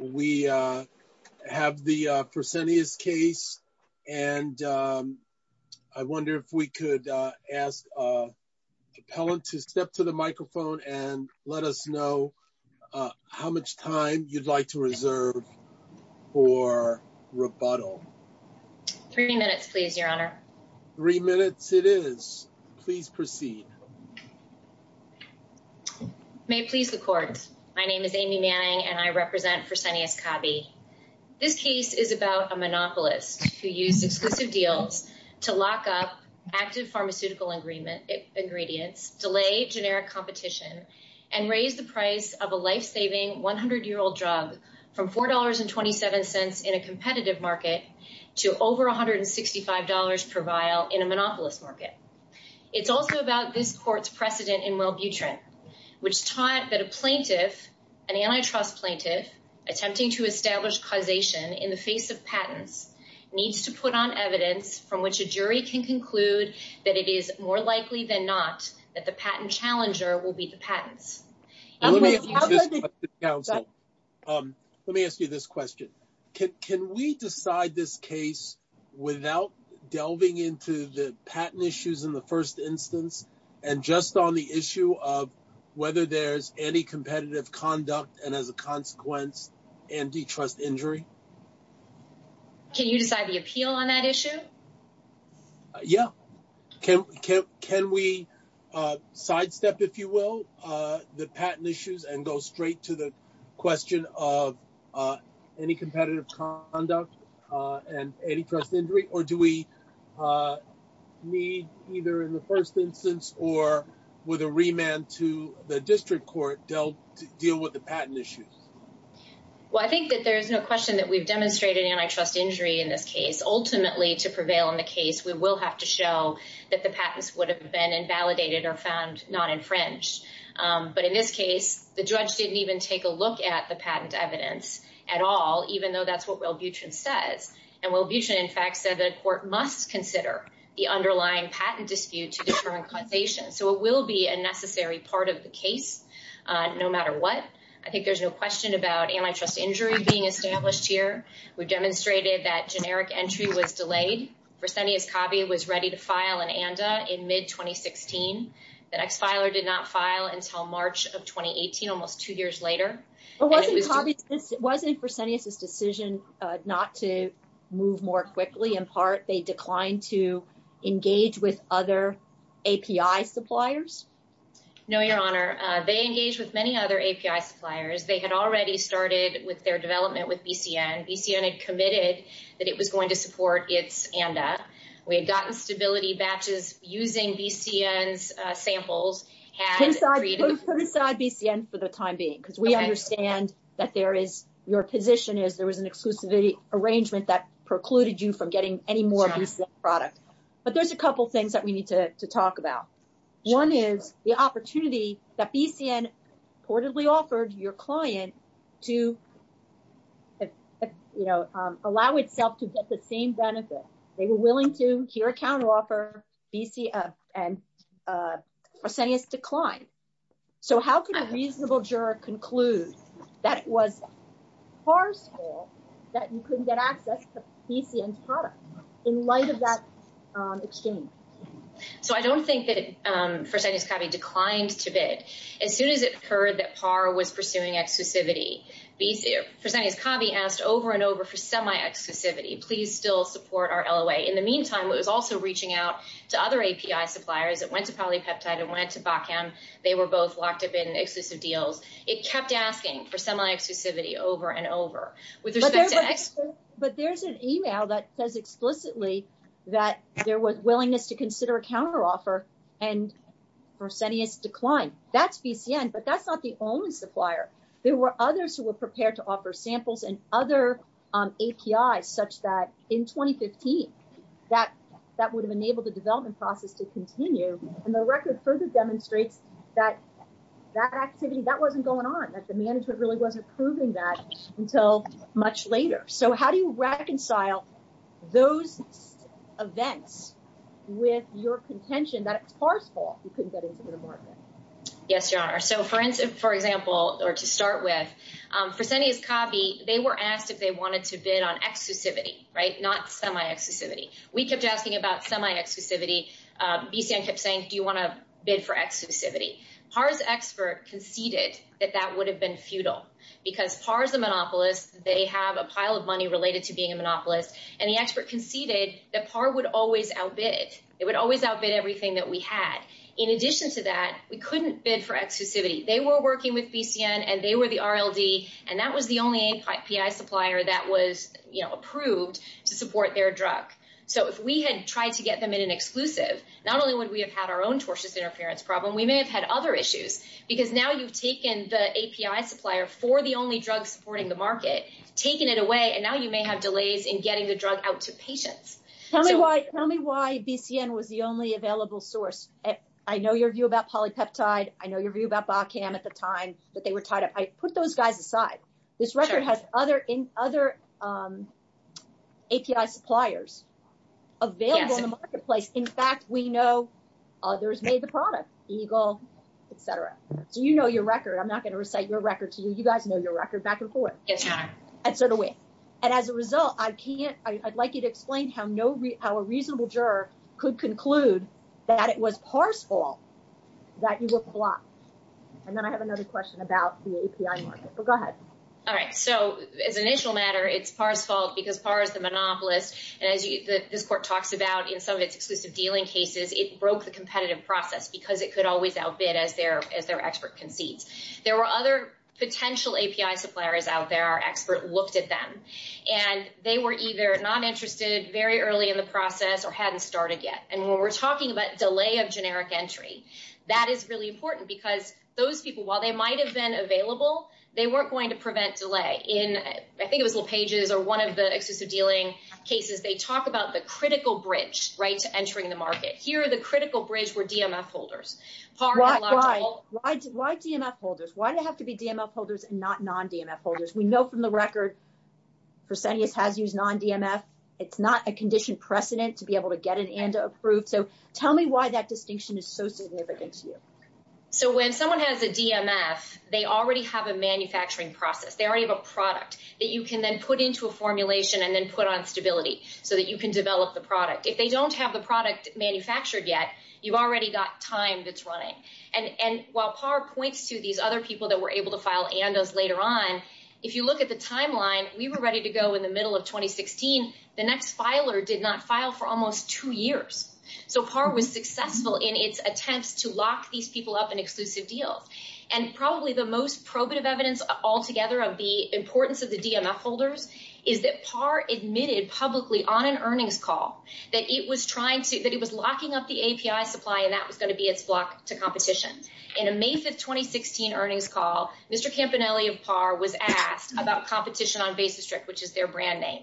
We have the Fresenius case, and I wonder if we could ask the appellant to step to the microphone and let us know how much time you'd like to reserve for rebuttal. Three minutes, please, Your Honor. Three minutes it is. Please proceed. May it please the Court. My name is Amy Manning, and I represent Fresenius Kabi. This case is about a monopolist who used exclusive deals to lock up active pharmaceutical ingredients, delay generic competition, and raise the price of a life-saving 100-year-old drug from $4.27 in a competitive market to over $165 per vial in a monopolist market. It's also about this Court's precedent in Wellbutrin, which taught that a plaintiff, an antitrust plaintiff, attempting to establish causation in the face of patents, needs to put on evidence from which a jury can conclude that it is more likely than not that the patent challenger will be the patent. Let me ask you this question. Can we decide this case without delving into the patent issues in the first instance and just on the issue of whether there's any competitive conduct and, as a consequence, antitrust injury? Can you decide the appeal on that issue? Yeah. Can we sidestep, if you will, the patent issues and go straight to the question of any competitive conduct and antitrust injury, or do we need either in the first instance or with a remand to the district court to deal with the patent issues? Well, I think that there is no question that we've demonstrated antitrust injury in this case. Ultimately, to prevail in the case, we will have to show that the patents would have been invalidated or found not infringed. But in this case, the judge didn't even take a look at the patent evidence at all, even though that's what Wellbutrin says. And Wellbutrin, in fact, said the court must consider the underlying patent dispute to determine causation. So it will be a necessary part of the case, no matter what. I think there's no question about antitrust injury being established here. We demonstrated that generic entry was delayed. But wasn't it Presenius's decision not to move more quickly? In part, they declined to engage with other API suppliers? No, Your Honor. They engaged with many other API suppliers. They had already started with their development with BCN. BCN had committed that it was going to support its ANDA. We had gotten stability batches using BCN's samples. Let's put aside BCN for the time being, because we understand that your position is there was an exclusivity arrangement that precluded you from getting any more BCN products. But there's a couple things that we need to talk about. One is the opportunity that BCN reportedly offered your client to, you know, allow itself to get the same benefit. They were willing to, to your account, offer BCN, and Presenius declined. So how could a reasonable juror conclude that it was PAR's fault that you couldn't get access to BCN's products in light of that exchange? So I don't think that Presenius Covey declined to bid. As soon as it occurred that PAR was pursuing exclusivity, we did. Presenius Covey asked over and over for semi-exclusivity. Please still support our LOA. In the meantime, we were also reaching out to other API suppliers that went to Polypeptide and went to Botkin. They were both locked up in exclusive deals. It kept asking for semi-exclusivity over and over. But there's an email that says explicitly that there was willingness to consider a counteroffer, and Presenius declined. That's BCN, but that's not the only supplier. There were others who were prepared to offer samples and other APIs such that, in 2015, that would have enabled the development process to continue, and the record further demonstrates that that activity, that wasn't going on, that the management really wasn't proving that until much later. So how do you reconcile those events with your contention that it's PAR's fault you couldn't get into the market? Yes, John. So for instance, for example, or to start with, Presenius Covey, they were asked if they wanted to bid on exclusivity, right, not semi-exclusivity. We kept asking about semi-exclusivity. BCN kept saying, do you want to bid for exclusivity? PAR's expert conceded that that would have been futile because PAR is a monopolist. They have a pile of money related to being a monopolist, and the expert conceded that PAR would always outbid. It would always outbid everything that we had. In addition to that, we couldn't bid for exclusivity. They were working with BCN, and they were the RLD, and that was the only API supplier that was approved to support their drug. So if we had tried to get them in an exclusive, not only would we have had our own tortious interference problem, we may have had other issues because now you've taken the API supplier for the only drug supporting the market, taken it away, and now you may have delays in getting the drug out to patients. Tell me why BCN was the only available source. I know your view about polypeptide. I know your view about Botcan at the time, but they were tied up. Put those guys aside. This record has other API suppliers available in the marketplace. In fact, we know others made the product, Eagle, et cetera. Do you know your record? I'm not going to recite your record to you. You guys know your record back and forth. And as a result, I'd like you to explain how a reasonable juror could conclude that it was Parr's fault that you were blocked. And then I have another question about the API market. Well, go ahead. All right. So as an initial matter, it's Parr's fault because Parr is a monopolist, and as this court talks about in some of its exclusive dealing cases, it broke the competitive process because it could always outbid as their expert concedes. There were other potential API suppliers out there. Our expert looked at them, and they were either not interested very early in the process or hadn't started yet. And when we're talking about delay of generic entry, that is really important because those people, while they might have been available, they weren't going to prevent delay. In, I think it was LePage's or one of the exclusive dealing cases, they talk about the critical bridge, right, to entering the market. Here, the critical bridge were DMS holders. Why DMS holders? Why did it have to be DMS holders and not non-DMS holders? We know from the record, Presenius has used non-DMS. It's not a condition precedent to be able to get an ANDA approved. So tell me why that distinction is so significant to you. So when someone has a DMS, they already have a manufacturing process. They already have a product that you can then put into a formulation and then put on stability so that you can develop the product. If they don't have the product manufactured yet, you've already got time that's running. And while Parr points to these other people that were able to file ANDAs later on, if you look at the timeline, we were ready to go in the middle of 2016. The next filer did not file for almost two years. So Parr was successful in its attempt to lock these people up in exclusive deals. And probably the most probative evidence altogether of the importance of the DMS holders is that Parr admitted publicly on an earnings call that it was locking up the API supply and that was going to be its block to competition. In a May 5, 2016 earnings call, Mr. Campanelli of Parr was asked about competition on Bay District, which is their brand name,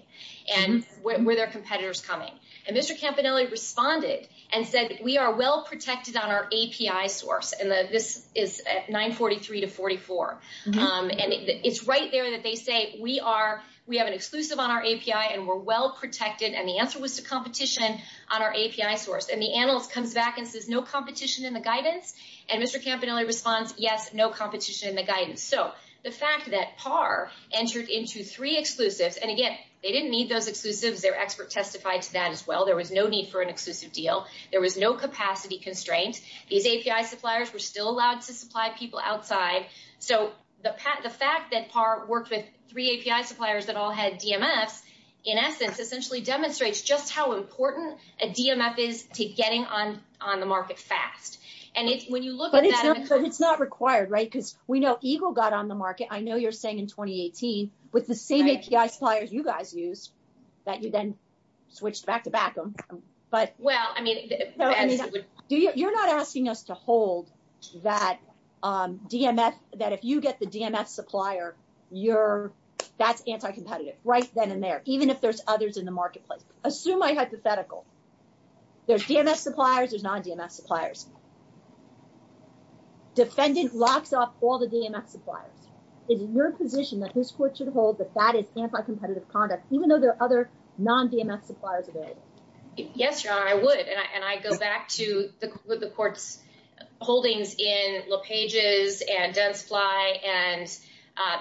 and were there competitors coming? And Mr. Campanelli responded and said, we are well protected on our API source. And this is at 943 to 44. And it's right there that they say, we have an exclusive on our API and we're well protected. And the answer was to competition on our API source. And the analyst comes back and says, no competition in the guidance? And Mr. Campanelli responds, yes, no competition in the guidance. So the fact that Parr entered into three exclusives, and again, they didn't need those exclusives. Their expert testified to that as well. There was no need for an exclusive deal. There was no capacity constraint. These API suppliers were still allowed to supply people outside. So the fact that Parr worked with three API suppliers that all had DMS, in essence, essentially demonstrates just how important a DMS is to getting on the market fast. But it's not required, right? Because we know Eagle got on the market, I know you're saying in 2018, with the same API suppliers you guys used, that you then switched back to back them. You're not asking us to hold that if you get the DMS supplier, that's anti-competitive, right then and there, even if there's others in the marketplace. Assume I hypothetical. There's DMS suppliers, there's non-DMS suppliers. Defendant lost off all the DMS suppliers. Is your position that this court should hold that that is anti-competitive conduct, even though there are other non-DMS suppliers available? Yes, Your Honor, I would. And I go back to the court's holdings in Lopeges and Densply and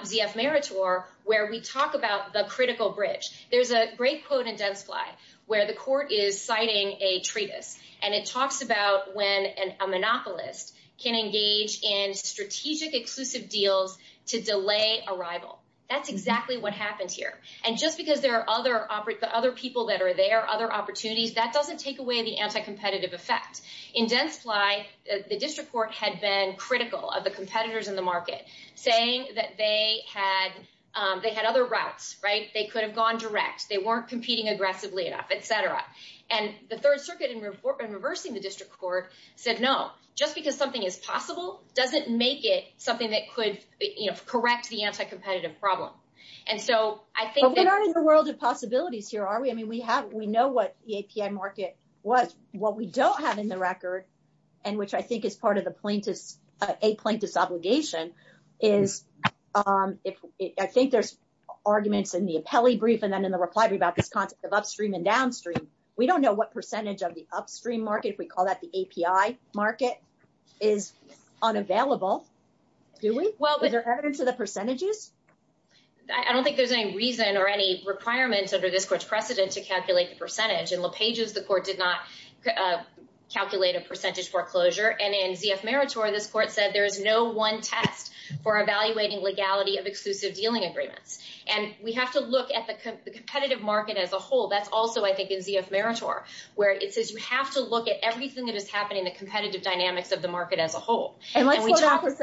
VF Meritor, where we talk about the critical bridge. There's a great quote in Densply, where the court is citing a treatise, and it talks about when a monopolist can engage in strategic exclusive deals to delay arrival. That's exactly what happened here. And just because there are other people that are there, other opportunities, that doesn't take away the anti-competitive effect. In Densply, the district court had been critical of the competitors in the market, saying that they had other rights, right? They could have gone direct, they weren't competing aggressively, etc. And the Third Circuit, in reversing the district court, said no, just because something is possible doesn't make it something that could correct the anti-competitive problem. But we aren't in the world of possibilities here, are we? I mean, we know what the API market was. What we don't have in the record, and which I think is part of a plaintiff's obligation, is, I think there's arguments in the appellee brief and then in the reply brief about this concept of upstream and downstream. We don't know what percentage of the upstream market, if we call that the API market, is unavailable. Do we? Is there evidence of the percentages? I don't think there's any reason or any requirements under this court's precedent to calculate the percentage. In LePage's report, did not calculate a percentage foreclosure. And in Z.F. Meritor, this court said there is no one test for evaluating legality of exclusive dealing agreements. And we have to look at the competitive market as a whole. That's also, I think, in Z.F. Meritor, where it says you have to look at everything that is happening, the competitive dynamics of the market as a whole. And let's slow down for a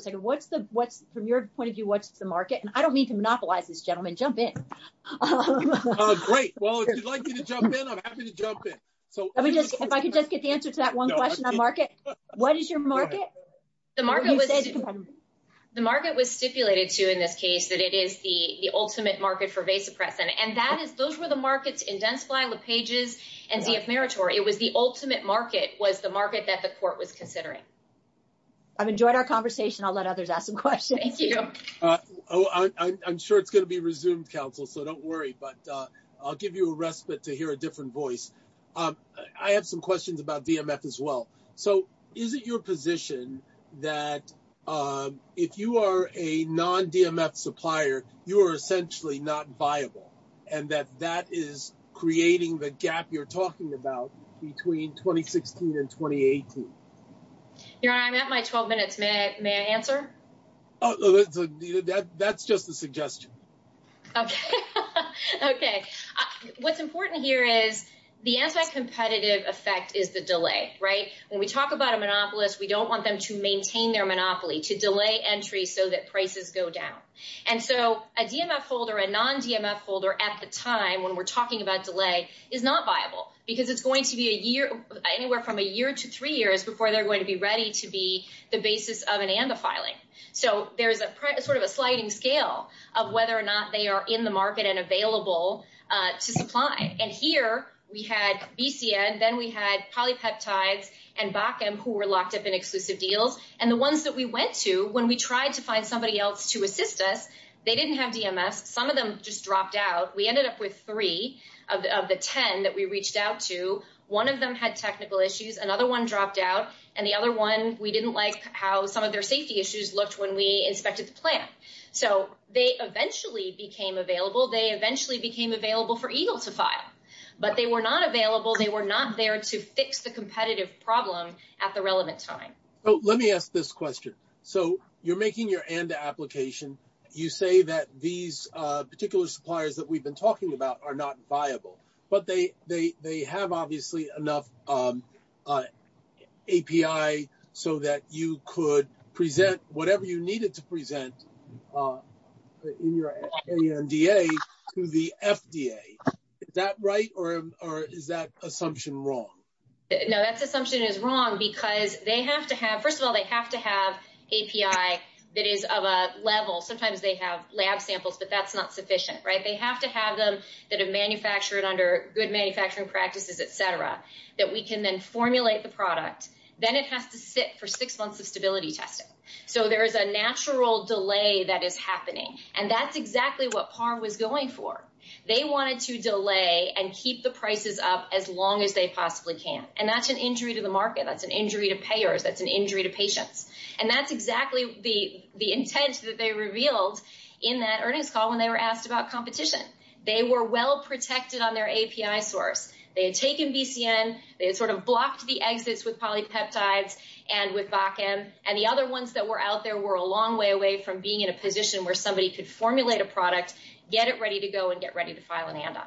second. From your point of view, what's the market? And I don't mean to monopolize this, gentlemen. Jump in. Oh, great. Well, if you'd like me to jump in, I'm happy to jump in. If I could just get the answer to that one question on market. What is your market? The market was stipulated, too, in this case, that it is the ultimate market for vasopressin. And those were the markets identified with Pages and Z.F. Meritor. It was the ultimate market was the market that the court was considering. I've enjoyed our conversation. I'll let others ask some questions. Thank you. I'm sure it's going to be resumed, Counsel, so don't worry. But I'll give you a respite to hear a different voice. I have some questions about DMF as well. So is it your position that if you are a non-DMF supplier, you are essentially not viable, and that that is creating the gap you're talking about between 2016 and 2018? I'm at my 12 minutes. May I answer? Okay. Okay. What's important here is the anti-competitive effect is the delay, right? When we talk about a monopolist, we don't want them to maintain their monopoly, to delay entry so that prices go down. And so a DMF holder, a non-DMF holder at the time when we're talking about delay is not viable because it's going to be anywhere from a year to three years before they're going to be ready to be the basis of an AMBA filing. So there's sort of a sliding scale of whether or not they are in the market and available to supply. And here, we had BCN, then we had Polypeptides, and Bakken, who were locked up in exclusive deals. And the ones that we went to when we tried to find somebody else to assist us, they didn't have DMF. Some of them just dropped out. We ended up with three of the ten that we reached out to. One of them had technical issues, another one dropped out, and the other one, we didn't like how some of their safety issues looked when we inspected the plant. So they eventually became available. They eventually became available for EGLE to file. But they were not available, they were not there to fix the competitive problem at the relevant time. Let me ask this question. So you're making your ANDA application. You say that these particular suppliers that we've been talking about are not viable. But they have, obviously, enough API so that you could present whatever you needed to present in your ANDA to the FDA. Is that right, or is that assumption wrong? No, that assumption is wrong because, first of all, they have to have API that is of a level. Sometimes they have lab samples, but that's not sufficient. They have to have them that are manufactured under good manufacturing practices, et cetera, that we can then formulate the product. Then it has to sit for six months of stability testing. So there is a natural delay that is happening. And that's exactly what PARM was going for. They wanted to delay and keep the prices up as long as they possibly can. And that's an injury to the market. That's an injury to payers. That's an injury to patients. And that's exactly the intent that they revealed in that earnings call when they were asked about competition. They were well protected on their API source. They had taken BCN. They had sort of blocked the exits with polypeptides and with BACN. And the other ones that were out there were a long way away from being in a position where somebody could formulate a product, get it ready to go, and get ready to file an ANDA.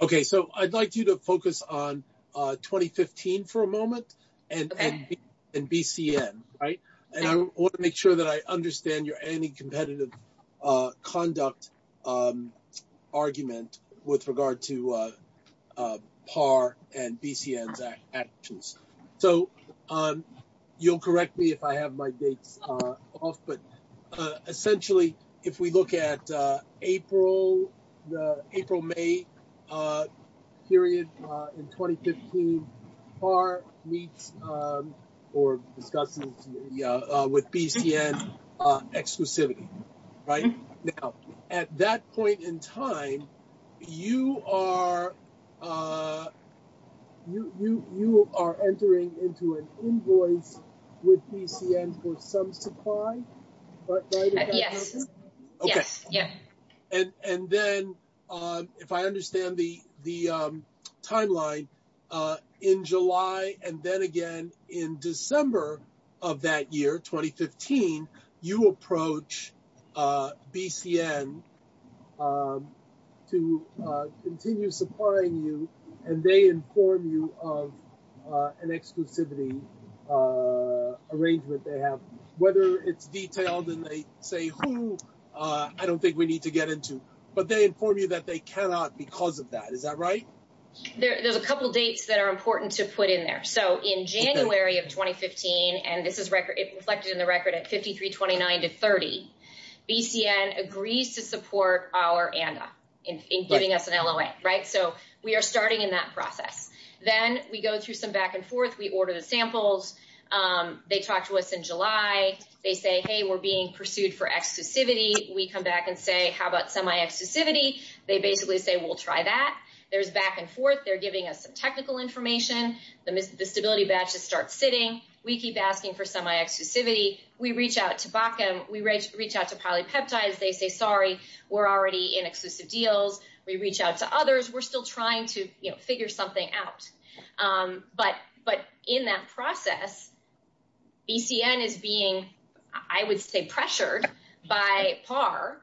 Okay, so I'd like you to focus on 2015 for a moment and BCN. I want to make sure that I understand your anti-competitive conduct argument with regard to PAR and BCN attitudes. So you'll correct me if I have my dates off, but essentially if we look at April, the April-May period in 2015, PAR meets or discusses with BCN exclusivity, right? Now, at that point in time, you are entering into an invoice with BCN for some supply? Yes. Okay. Yes. And then if I understand the timeline, in July and then again in December of that year, 2015, you approach BCN to continue supplying you, and they inform you of an exclusivity arrangement they have. Whether it's detailed and they say who, I don't think we need to get into, but they inform you that they cannot because of that. Is that right? There's a couple of dates that are important to put in there. So in January of 2015, and this is reflected in the record at 53-29-30, BCN agrees to support our ANDA in giving us an LOA, right? So we are starting in that process. Then we go through some back and forth. We order the samples. They talk to us in July. They say, hey, we're being pursued for exclusivity. We come back and say, how about semi-exclusivity? They basically say, we'll try that. There's back and forth. They're giving us some technical information. The disability badges start fitting. We keep asking for semi-exclusivity. We reach out to BACM. We reach out to Polypeptides. They say, sorry, we're already in exclusive deals. We reach out to others. We're still trying to figure something out. But in that process, BCN is being, I would say, pressured by PAR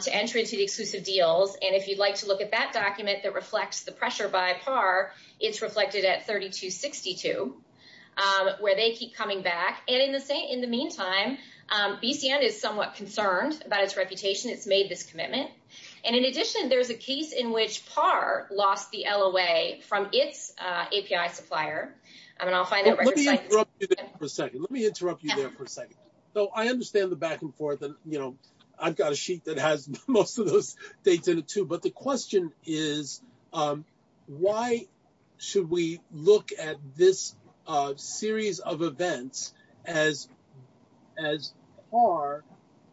to enter into the exclusive deals. And if you'd like to look at that document that reflects the pressure by PAR, it's reflected at 32-62, where they keep coming back. And in the meantime, BCN is somewhat concerned about its reputation. It's made this commitment. And in addition, there's a case in which PAR lost the LOA from its API supplier. Let me interrupt you there for a second. Let me interrupt you there for a second. So I understand the back and forth. I've got a sheet that has most of those things in it, too. But the question is, why should we look at this series of events as PAR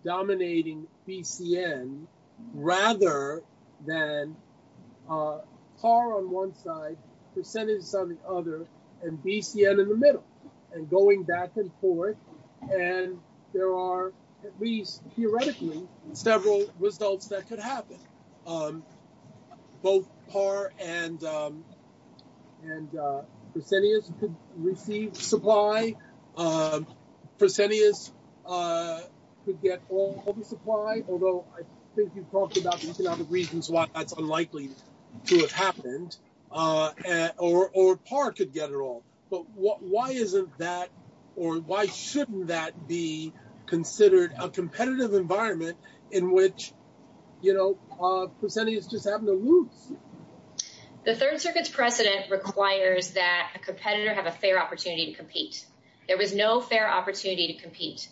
dominating BCN, rather than PAR on one side, percentage on the other, and BCN in the middle? And going back and forth. And there are, at least theoretically, several results that could happen. Both PAR and Persenius could receive supply. Persenius could get all of the supply, although I think you've talked about these are not the reasons why that's unlikely to have happened. Or PAR could get it all. But why isn't that, or why shouldn't that be considered a competitive environment in which, you know, Persenius just happened to lose? The third circuit's precedent requires that a competitor have a fair opportunity to compete. There was no fair opportunity to compete.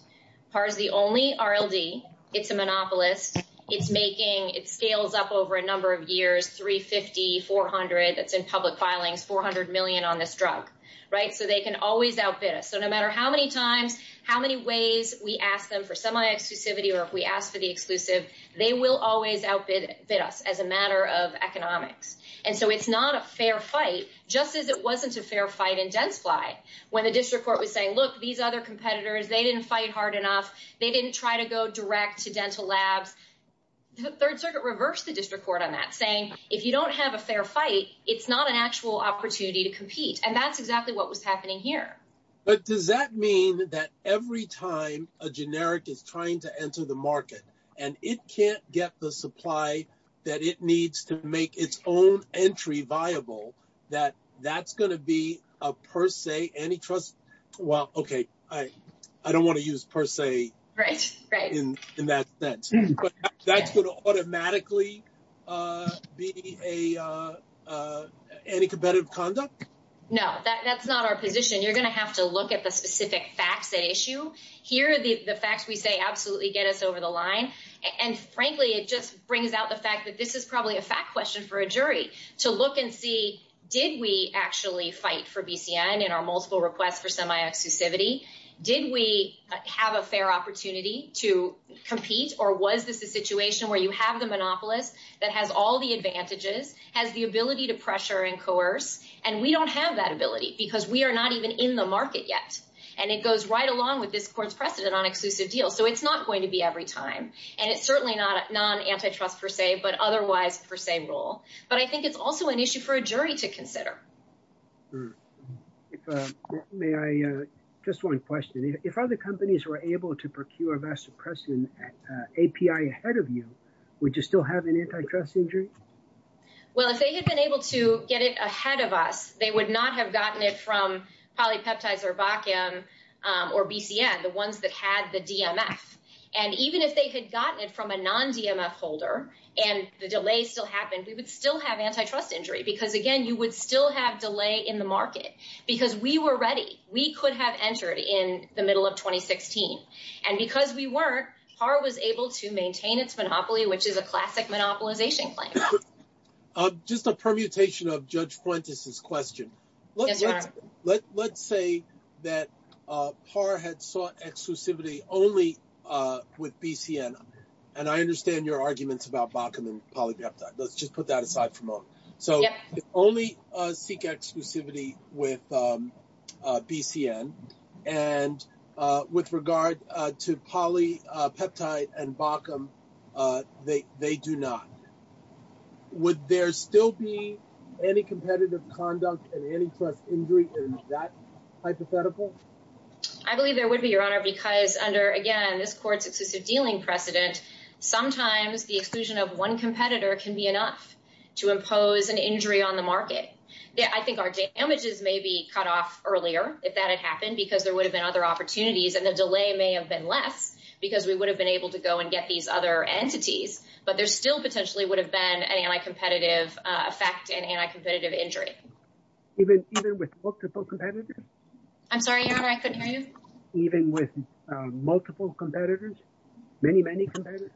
PAR is the only RLD. It's a monopolist. It's making, it scales up over a number of years, 350, 400. It's in public filing, 400 million on this drug, right? So they can always outbid us. So no matter how many times, how many ways we ask them for semi-exclusivity, or if we ask for the exclusive, they will always outbid us as a matter of economics. And so it's not a fair fight, And I say fair fight because there's a fair opportunity to compete. Just as it wasn't a fair fight in dental fly. When the district court was saying, look, these other competitors, they didn't fight hard enough. They didn't try to go direct to dental lab. The third circuit reversed this record on that saying, if you don't have a fair fight, it's not an actual opportunity to compete. And that's exactly what was happening here. But does that mean that every time a generic is trying to enter the market and it can't get the supply that it needs to make its own entry viable, that that's going to be a per se antitrust? Well, okay. I don't want to use per se in that sense. But that's going to automatically be an anticompetitive conduct? No, that's not our position. You're going to have to look at the specific facts issue here. The fact we say absolutely get us over the line. And frankly, it just brings out the fact that this is probably a fact question for a jury to look and see, did we actually fight for BCN? And our multiple requests for semi-exclusivity, did we have a fair opportunity to compete? Or was this a situation where you have the monopolist that has all the advantages has the ability to pressure and coerce. And we don't have that ability because we are not even in the market yet. And it goes right along with this course precedent on exclusive deals. So it's not going to be every time. And it's certainly not non antitrust per se, but otherwise per se role. But I think it's also an issue for a jury to consider. Just one question. If other companies were able to procure vast oppressive API ahead of you, would you still have an antitrust injury? Well, if they had been able to get it ahead of us, they would not have gotten it from Polypeptide or Bakken or BCN, the ones that had the DMS. And even if they had gotten it from a non-DMS holder and the delay still happened, we would still have antitrust injury. Because again, you would still have delay in the market. Because we were ready. We could have entered in the middle of 2016. And because we weren't, PAR was able to maintain its monopoly, which is a classic monopolization plan. Just a permutation of Judge Fuentes' question. Let's say that PAR had sought exclusivity only with BCN. And I understand your arguments about Bakken and Polypeptide. Let's just put that aside for a moment. So only seek exclusivity with BCN. And with regard to Polypeptide and Bakken, they do not. Would there still be any competitive conduct and antitrust injury in that hypothetical? I believe there would be, Your Honor, because under, again, this court's exclusive dealing precedent, sometimes the exclusion of one competitor can be enough to impose an injury on the market. I think our damages may be cut off earlier if that had happened. Because there would have been other opportunities. And the delay may have been less. Because we would have been able to go and get these other entities. But there still potentially would have been an anti-competitive effect and anti-competitive injury. Even with multiple competitors? I'm sorry, Your Honor, I said many? Even with multiple competitors? Many, many competitors?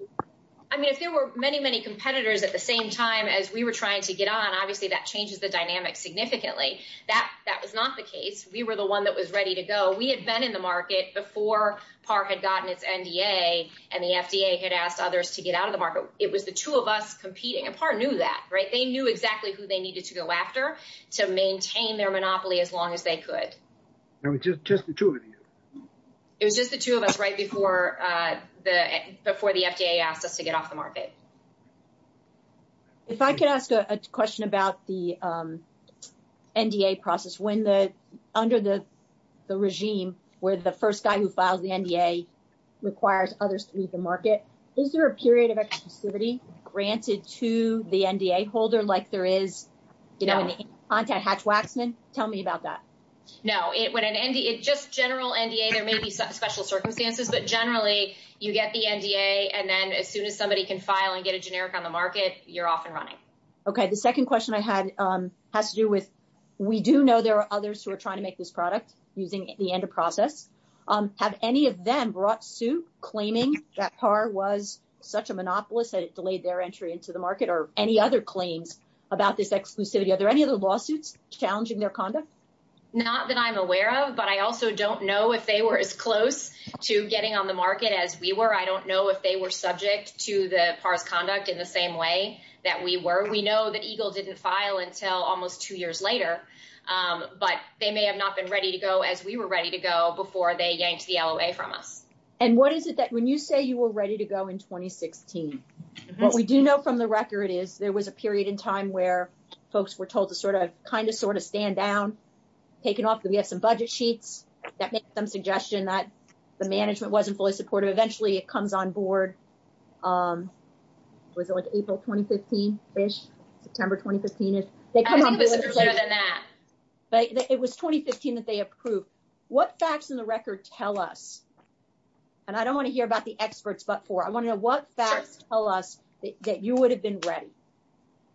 I mean, if there were many, many competitors at the same time as we were trying to get on, obviously that changes the dynamic significantly. That was not the case. We were the one that was ready to go. We had been in the market before PARC had gotten its NDA and the FDA had asked others to get out of the market. It was the two of us competing. And PARC knew that, right? They knew exactly who they needed to go after to maintain their monopoly as long as they could. It was just the two of you? It was just the two of us right before the FDA asked us to get off the market. If I could ask a question about the NDA process. Under the regime where the first guy who files the NDA requires others to leave the market, is there a period of exclusivity granted to the NDA holder, like there is, you know, contact Hatch-Waxman? Tell me about that. No. It's just general NDA. There may be some special circumstances, but generally you get the NDA and then as soon as somebody can file and get a generic on the market, you're off and running. Okay. The second question I had has to do with, we do know there are others who are trying to make this product using the end of process. Have any of them brought suit claiming that PARC was such a monopolist that it delayed their entry into the market or any other claims about this exclusivity? Are there any other lawsuits challenging their conduct? Not that I'm aware of, but I also don't know if they were as close to getting on the market as we were. I don't know if they were subject to the PARC conduct in the same way that we were. We know that EGLE didn't file until almost two years later, but they may have not been ready to go as we were ready to go before they yanked the LOA from us. And what is it that, when you say you were ready to go in 2016, what we do know from the record is there was a period in time where folks were told to sort of, kind of, sort of stand down, take it off. We had some budget sheets that make some suggestion that the management wasn't fully supportive. Eventually it comes on board. Was it like April 2015-ish? September 2015-ish? It was 2015 that they approved. What facts in the record tell us, and I don't want to hear about the experts but for, I want to know what facts tell us that you would have been ready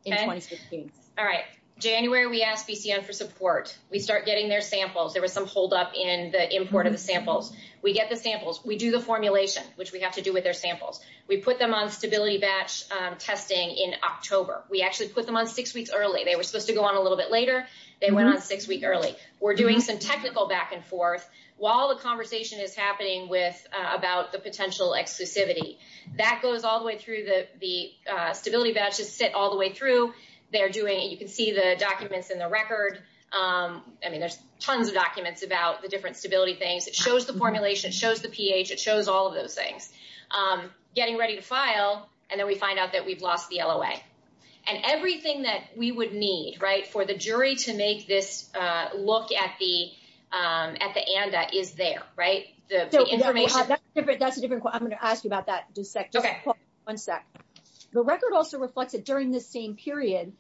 in 2016? All right. January we asked BCN for support. We start getting their samples. There was some holdup in the import of the samples. We get the samples. We do the formulation, which we have to do with their samples. We put them on stability batch testing in October. We actually put them on six weeks early. They were supposed to go on a little bit later. They went on six weeks early. We're doing some technical back and forth while the conversation is happening about the potential exclusivity. That goes all the way through the stability batches sit all the way through. You can see the documents in the record. I mean, there's tons of documents about the different stability things. It shows the formulation. It shows the pH. It shows all of those things. Getting ready to file, and then we find out that we've lost the LOA. And everything that we would need, right, for the jury to make this look at the ANDA is there, right? That's a different question. I'm going to ask you about that in just a second. One sec. The record also reflects that during this same period,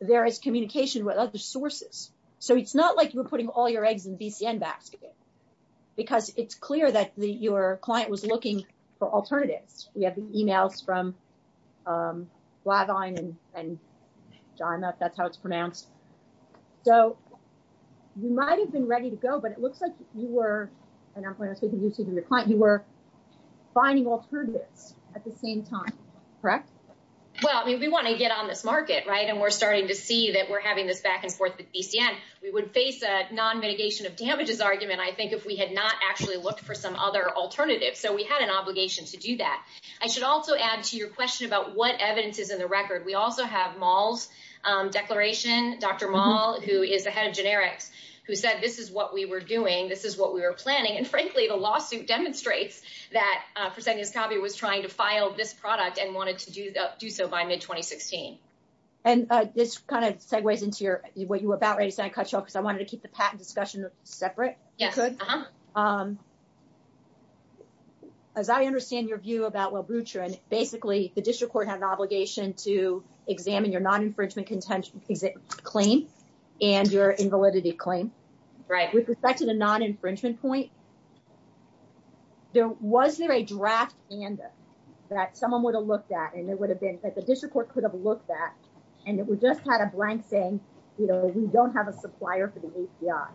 there is communication with other sources. So it's not like you're putting all your eggs in BCN basket. Because it's clear that your client was looking for alternatives. We have the emails from Blagine and John. That's how it's pronounced. So you might have been ready to go, but it looks like you were, you were finding alternatives at the same time, correct? Well, I mean, we want to get on this market, right? And we're starting to see that we're having this back and forth with BCN. We would face a non-mitigation of damages argument, I think, if we had not actually looked for some other alternatives. So we had an obligation to do that. I should also add to your question about what evidence is in the record. We also have Moll's declaration. Dr. Moll, who is the head of generics, who said this is what we were doing. And frankly, the lawsuit demonstrates that President Salve was trying to file this product and wanted to do so by mid-2016. And this kind of segues into what you were about, because I wanted to keep the patent discussion separate, if you could. Uh-huh. As I understand your view about Wobrutrin, basically the District Court has an obligation to examine your non infringement claims. Right. With respect to the non-infringement point, was there a draft ANDA that someone would have looked at and there would have been, that the District Court could have looked at, and if we just had a blank thing, you know, we don't have a supplier for the API.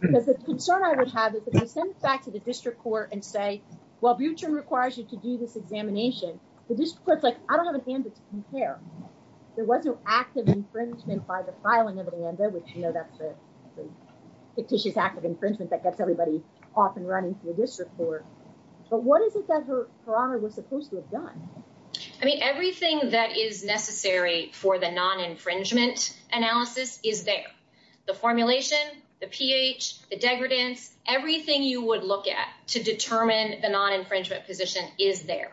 Because the concern I would have is if we send this back to the District Court and say, well, Wobrutrin requires you to do this examination, the District Court's like, I don't have an ANDA to compare. There wasn't active infringement by the filing of an ANDA, which, you know, that's a fictitious act of infringement that gets everybody off and running to the District Court. But what is it that Her Honor was supposed to have done? I mean, everything that is necessary for the non-infringement analysis is there. The formulation, the pH, the degredants, everything you would look at to determine the non-infringement position is there.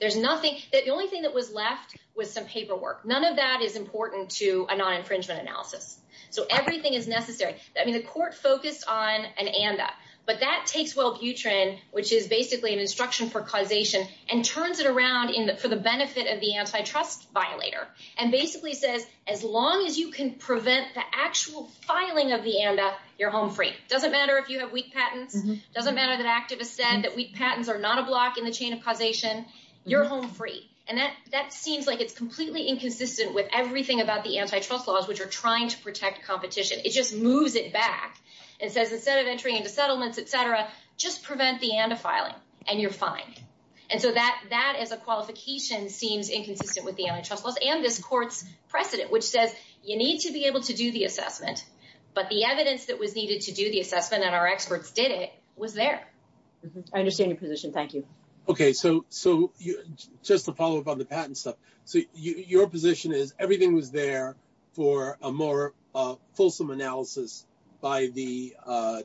There's nothing, the only thing that was left was some paperwork. None of that is important to a non-infringement analysis. So everything is necessary. I mean, the Court focused on an ANDA. But that takes Wobrutrin, which is basically an instruction for causation, and turns it around for the benefit of the antitrust violator, and basically says as long as you can prevent the actual filing of the ANDA, you're home free. It doesn't matter if you have weak patents. It doesn't matter that activists said that weak patents are not a block in the chain of causation. You're home free. And that seems like it's completely inconsistent with everything about the ANDA to protect competition. It just moves it back. It says instead of entering into settlements, et cetera, just prevent the ANDA filing and you're fine. And so that as a qualification seems inconsistent with the ANDA trust clause and this Court's precedent, which says you need to be able to do the assessment. But the evidence that was needed to do the assessment and our experts did it was there. I understand the position. Thank you. Okay. So just to follow up on the patent stuff. So your position is everything was there for a more fulsome analysis by the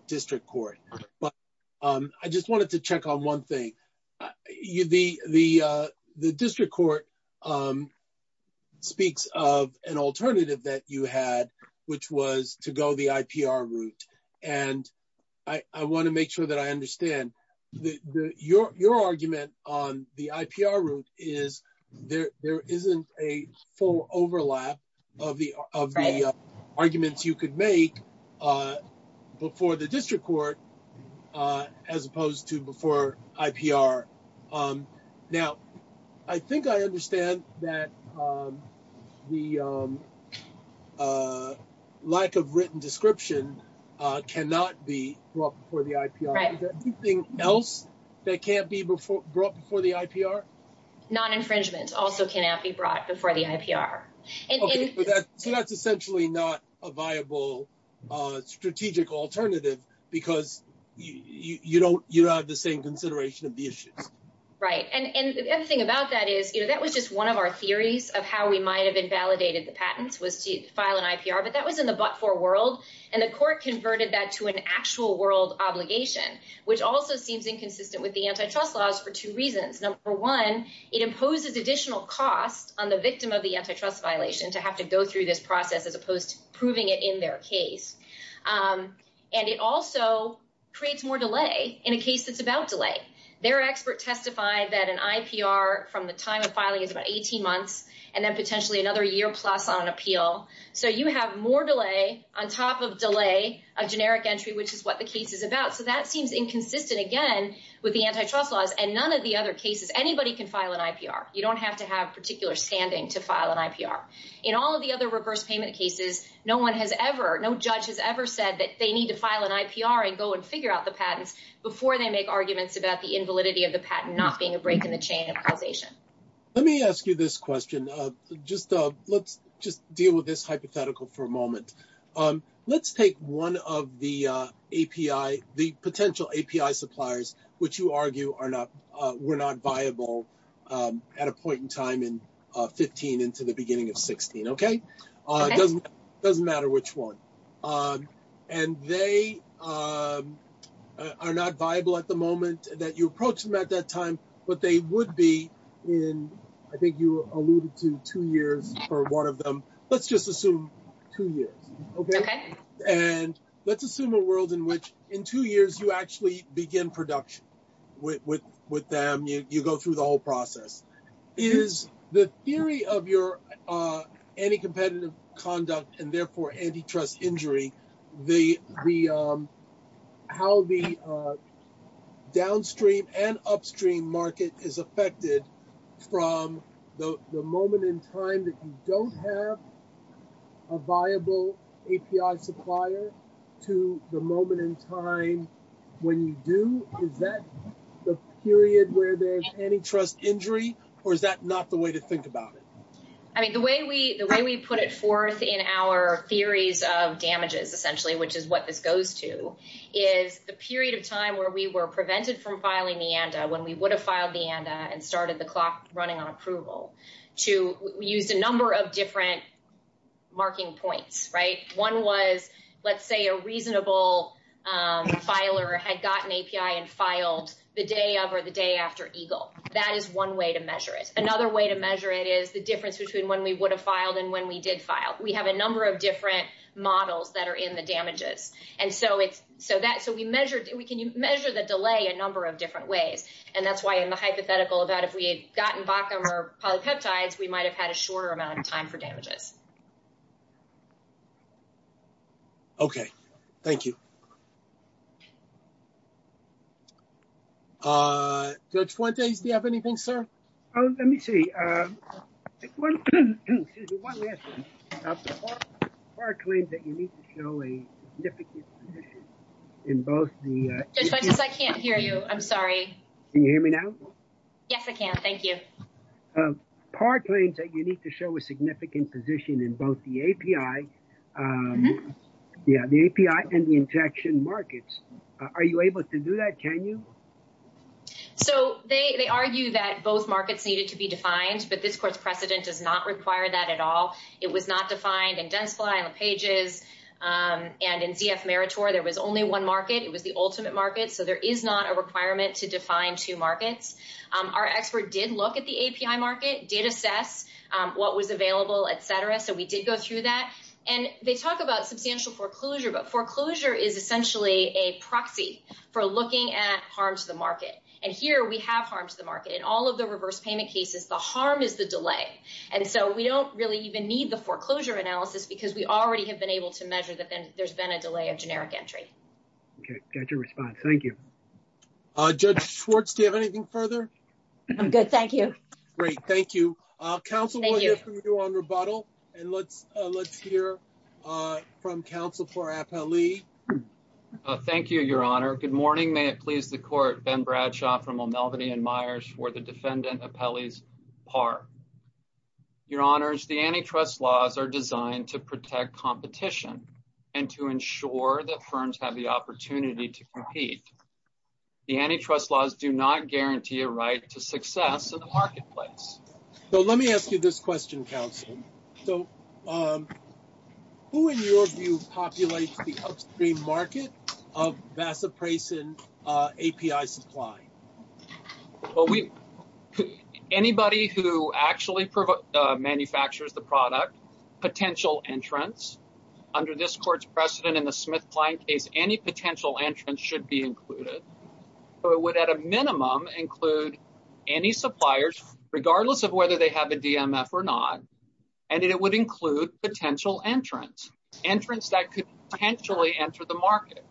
district court. But I just wanted to check on one thing. The district court speaks of an alternative that you had, which was to go the IPR route. And I want to make sure that I understand. Your argument on the IPR route is there isn't a full overlap of the arguments you could make before the district court, as opposed to before IPR. Now, I think I understand that the lack of written description cannot be brought before the IPR. Is there anything else that can't be brought before the IPR? Non-infringement also cannot be brought before the IPR. Okay. But that's essentially not a viable strategic alternative because you don't have the same consideration of the issue. Right. And the other thing about that is, you know, that was just one of our theories of how we might've invalidated the patents was to file an IPR, but that was in the but-for world. And the court converted that to an actual world obligation, which also seems inconsistent with the antitrust laws for two reasons. Number one, it imposes additional costs on the victim of the antitrust violation to have to go through this process as opposed to proving it in their case. And it also creates more delay in a case that's about delay. Their expert testified that an IPR from the time of filing is about 18 months and then potentially another year plus on appeal. So you have more delay on top of delay, a generic entry, which is what the case is about. So that seems inconsistent again with the antitrust laws and none of the other cases, anybody can file an IPR. You don't have to have particular standing to file an IPR. In all of the other reverse payment cases, no one has ever, no judge has ever said that they need to file an IPR and go and figure out the patents before they make arguments about the invalidity of the patent not being a break in the chain of causation. Let me ask you this question. Let's just deal with this hypothetical for a moment. Let's take one of the API, the potential API suppliers, which you argue were not viable at a point in time in 15 into the beginning of 16, okay? It doesn't matter which one. And they are not viable at the moment that you approach them at that time, but they would be in, I think you alluded to two years for one of them. Let's just assume two years. Okay. And let's assume a world in which in two years, you actually begin production with, with, with them. You go through the whole process. Is the theory of your, uh, any competitive conduct and therefore antitrust injury, the, the, um, how the, uh, market is affected from the moment in time that you don't have a viable API supplier to the moment in time when you do, is that the period where there's antitrust injury, or is that not the way to think about it? I mean, the way we, the way we put it forth in our theories of damages, essentially, which is what this goes to is the period of time where we were prevented from filing the ANDA, when we would have filed the ANDA and started the clock running on approval to use a number of different marking points, right? One was, let's say a reasonable, um, filer had gotten API and filed the day of, or the day after Eagle. That is one way to measure it. Another way to measure it is the difference between when we would have filed and when we did file, we have a number of different models that are in the damages. And so it's so that, so we measured, we can measure the delay a number of different ways. And that's why in the hypothetical of that, if we had gotten back on our polypeptides, we might've had a shorter amount of time for damages. Okay. Thank you. Uh, do you have anything, sir? Oh, let me see. Um, I can't hear you. I'm sorry. Can you hear me now? Yes, I can. Thank you. Um, part claims that you need to show a significant position in both the API. Um, yeah, the API and the injection markets. Uh, are you able to do that? Can you. So they, they argue that both markets needed to be defined, but this course precedent does not require that at all. It was not defined and does fly on pages. Um, and in CF Meritor, there was only one market. It was the ultimate market. So there is not a requirement to define two markets. Um, our expert did look at the API market, did assess, um, what was available, et cetera. So we did go through that and they talk about substantial foreclosure, but foreclosure is essentially a proxy for looking at harm to the market. And here we have harmed the market and all of the reverse payment cases, the harm is the delay. And so we don't really even need the foreclosure analysis because we know that the market is going to be affected. I think that's all I have to say. Great. Got your response. Thank you. Uh, just Schwartz. Do you have anything further? I'm good. Thank you. Great. Thank you. Uh, council. And let's, uh, let's hear. Uh, from council for FLE. Uh, thank you, your honor. Good morning. May it please the court. Ben Bradshaw from Melvin and Myers for the defendant. Your honor. The antitrust laws are designed to protect competition and to ensure that firms have the opportunity to compete. The antitrust laws do not guarantee a right to success in the marketplace. So let me ask you this question. So, um, who in your view populates the market of VASA price in, uh, API supply? Well, we, anybody who actually provide, uh, manufactures the product potential entrance under this court's precedent in the Smith client case, any potential entrance should be included. So it would at a minimum include any suppliers, regardless of whether they have a DMF or not. And it would include potential entrance entrance that could potentially enter the market.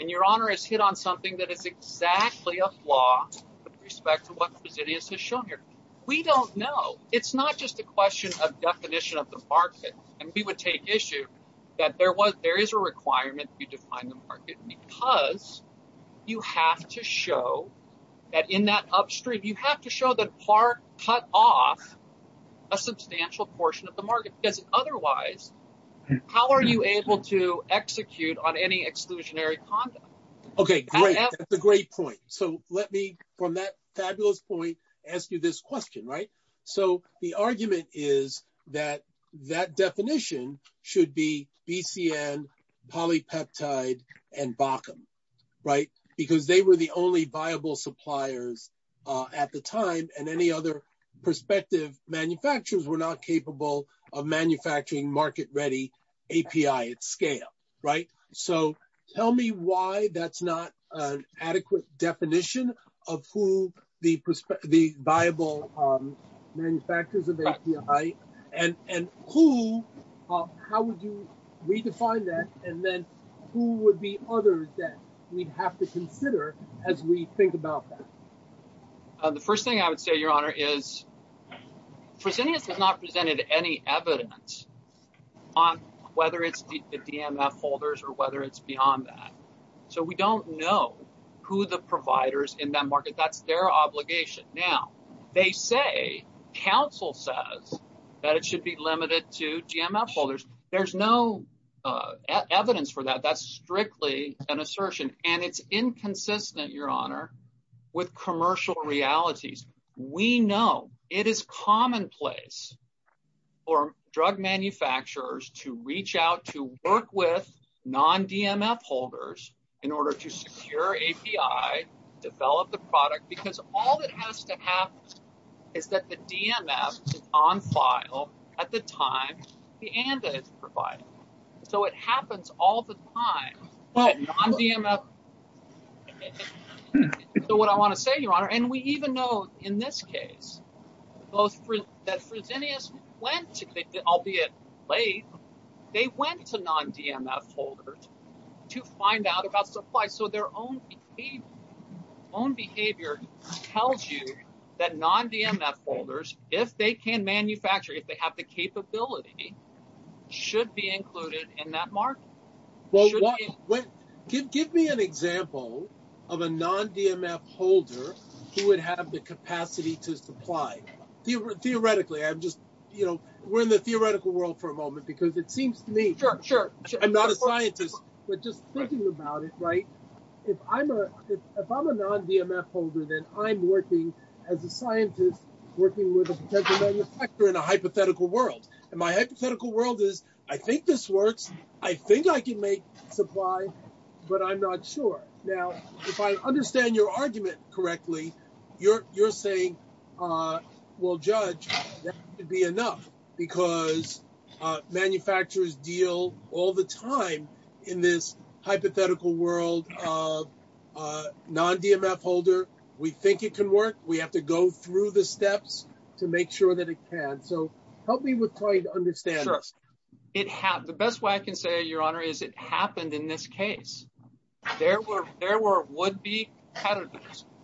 And your honor has hit on something that is exactly a flaw with respect to what the business has shown here. We don't know. It's not just a question of definition of the market. And we would take issue that there was, there is a requirement to define the market because you have to show that in that upstream, you have to show that part cut off a substantial portion of the market. Does it? Otherwise, how are you able to execute on any exclusionary? Okay. Great. That's a great point. So let me, from that fabulous point, ask you this question, right? So the argument is that that definition should be BCN polypeptide and bottom, right? Because they were the only viable suppliers at the time and any other prospective manufacturers were not capable of manufacturing market-ready API at scale, right? So tell me why that's not an adequate definition of who the prospect, the viable manufacturers of API and, and who, how would you redefine that? And then who would be others that we'd have to consider as we think about that? The first thing I would say, your honor, is Presidio has not presented any evidence on whether it's the DMF holders or whether it's beyond that. So we don't know who the providers in that market, that's their obligation. Now they say, counsel says that it should be limited to GMF holders. There's no evidence for that. That's strictly an assertion. And it's inconsistent your honor with commercial realities. We know it is commonplace for drug manufacturers to reach out, to work with non DMF holders in order to secure API, develop the product, because all it has to have is that the DMF is on file at the time the ANDA is provided. So it happens all the time. So what I want to say, your honor, and we even know in this case, that Presidio went to, albeit late, they went to non DMF holders to find out about supply. So their own behavior tells you that non DMF holders, if they can manufacture, if they have the capability should be included in that market. Well, give me an example of a non DMF holder. He would have the capacity to supply theoretically. I'm just, you know, we're in the theoretical world for a moment because it seems to me, I'm not a scientist, but just thinking about it, right. If I'm a, if I'm a non DMF holder, then I'm working as a scientist, working with a potential manufacturer in a hypothetical world. And my hypothetical world is, I think this works. I think I can make supply, but I'm not sure. Now, if I understand your argument correctly, you're, you're saying, well, judge to be enough because manufacturers deal all the time in this hypothetical world of a non DMF holder. We think it can work. We have to go through the steps to make sure that it can. So help me with trying to understand. It has the best way I can say your honor is it happened in this case. There were, there were would be kind of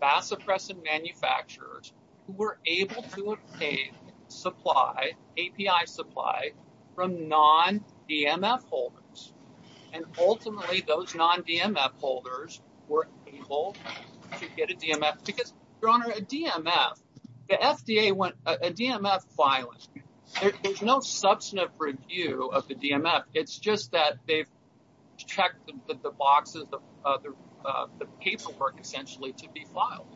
mass oppressive manufacturers who were able to obtain supply API supply from non DMF holders. And ultimately those non DMF holders were able to get a DMF because your honor, a DMF, the FDA went a DMF filing. There's no substantive review of the DMF. It's just that they've checked the boxes of the paperwork essentially to be filed.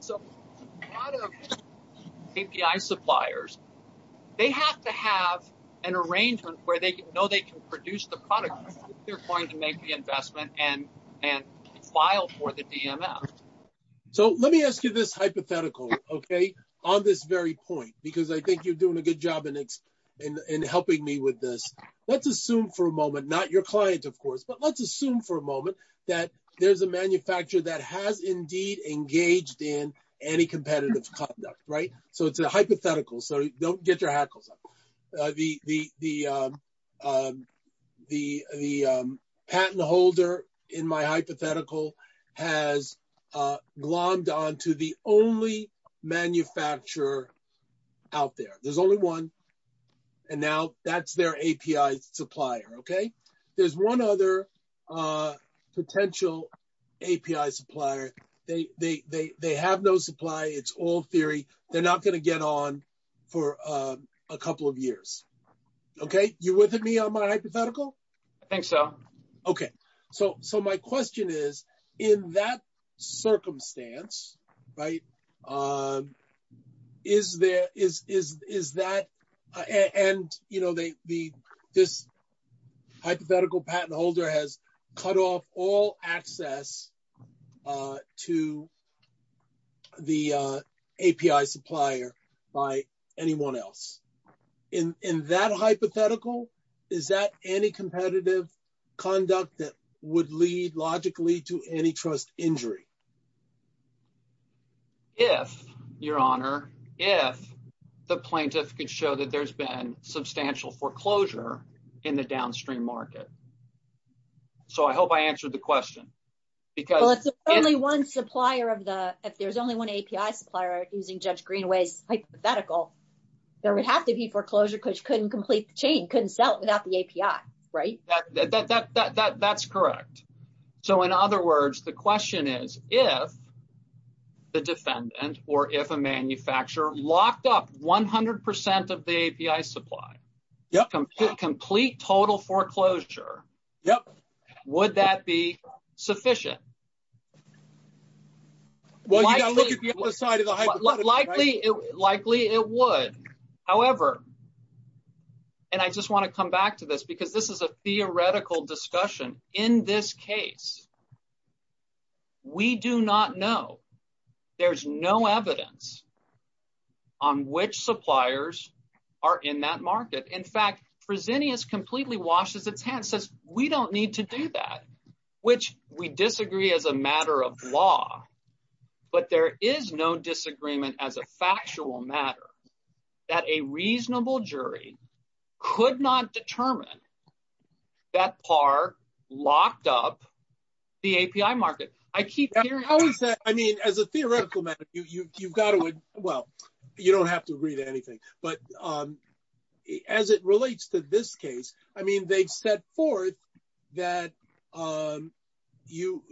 So API suppliers, they have to have an arrangement where they know they can produce the product they're going to make the investment and, and file for the DMF. So let me ask you this hypothetical. Okay. On this very point, because I think you're doing a good job in, in, in helping me with this. Let's assume for a moment, not your clients, of course, but let's assume for a moment that there's a manufacturer that has indeed engaged in any competitive conduct. Right? So it's a hypothetical. So don't get your hackles. The, the, the, the, the patent holder in my hypothetical has glommed onto the only manufacturer out there. There's only one and now that's their API supplier. Okay. There's one other potential API supplier. They, they, they, they have no supply. It's all theory. They're not going to get on for a couple of years. Okay. You're with me on my hypothetical. Okay. So, so my question is in that circumstance, right. Is there is, is, is that, and you know, they, the, this hypothetical patent holder has cut off all access to the API supplier by anyone else in, in that hypothetical, is that any competitive conduct that would lead logically to antitrust injury? Yes, your honor. If the plaintiff could show that there's been substantial foreclosure in the downstream market. So I hope I answered the question. Only one supplier of the, if there's only one API supplier using judge Greenway hypothetical, there would have to be foreclosure because you couldn't complete the chain couldn't sell it without the API. Right. That, that, that, that, that, that's correct. So in other words, the question is if the defendant or if a manufacturer locked up 100% of the API supply, complete total foreclosure, would that be sufficient? Well, likely, likely it would. However, and I just want to come back to this because this is a theoretical discussion in this case, we do not know. There's no evidence on which suppliers are in that market. In fact, Presidio is completely washed as a tan says we don't need to do that, which we disagree as a matter of law, but there is no disagreement as a factual matter that a reasonable jury could not determine that par locked up the API market. I keep hearing. I mean, as a theoretical method, you, you, you've got to, well, you don't have to read anything, but as it relates to this case, I mean, they've set forth that you,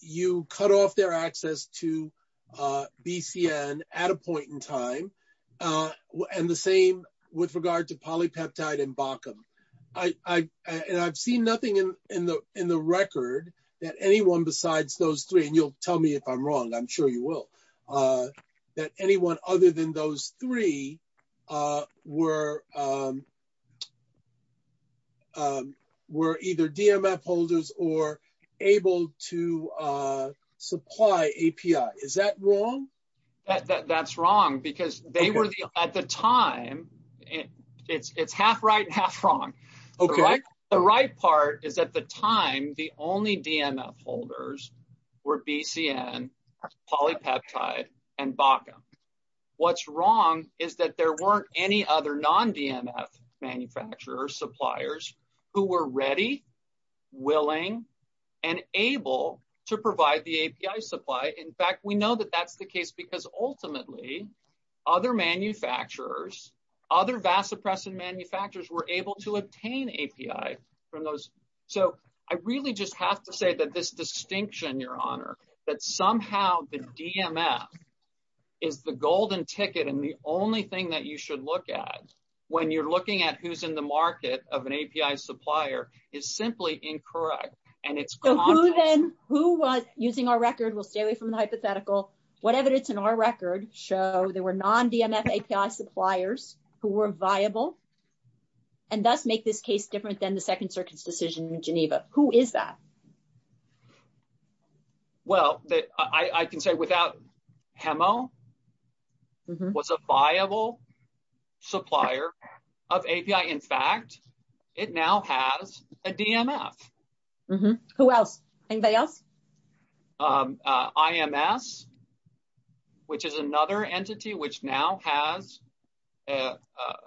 you cut off their access to BCN at a point in time. And the same with regard to polypeptide and Bakum. I, I, and I've seen nothing in the, in the record that anyone besides those three, and you'll tell me if I'm wrong, I'm sure you will. That anyone other than those three were either DMF holders or able to supply API. Is that wrong? That's wrong because they were at the time it's, it's half right, half wrong. Okay. The right part is at the time, the only DMF holders were BCN, polypeptide and Bakum. What's wrong is that there weren't any other non-DMF manufacturer suppliers who were ready, willing and able to provide the API supply. In fact, we know that that's the case because ultimately other manufacturers, other vasopressin manufacturers were able to obtain API from those. So I really just have to say that this distinction, your honor, that somehow the DMF is the golden ticket. And the only thing that you should look at when you're looking at who's in the market of an API supplier is simply incorrect. And it's. Who was using our record. We'll stay away from the hypothetical, whatever it is in our record show there were non-DMF API suppliers who were viable. And that's make this case different than the second circuit's decision in Geneva. Who is that? Well, I can say without HEMO, was a viable supplier of API. In fact, it now has a DMF. Who else? Anybody else? IMS, which is another entity, which now has a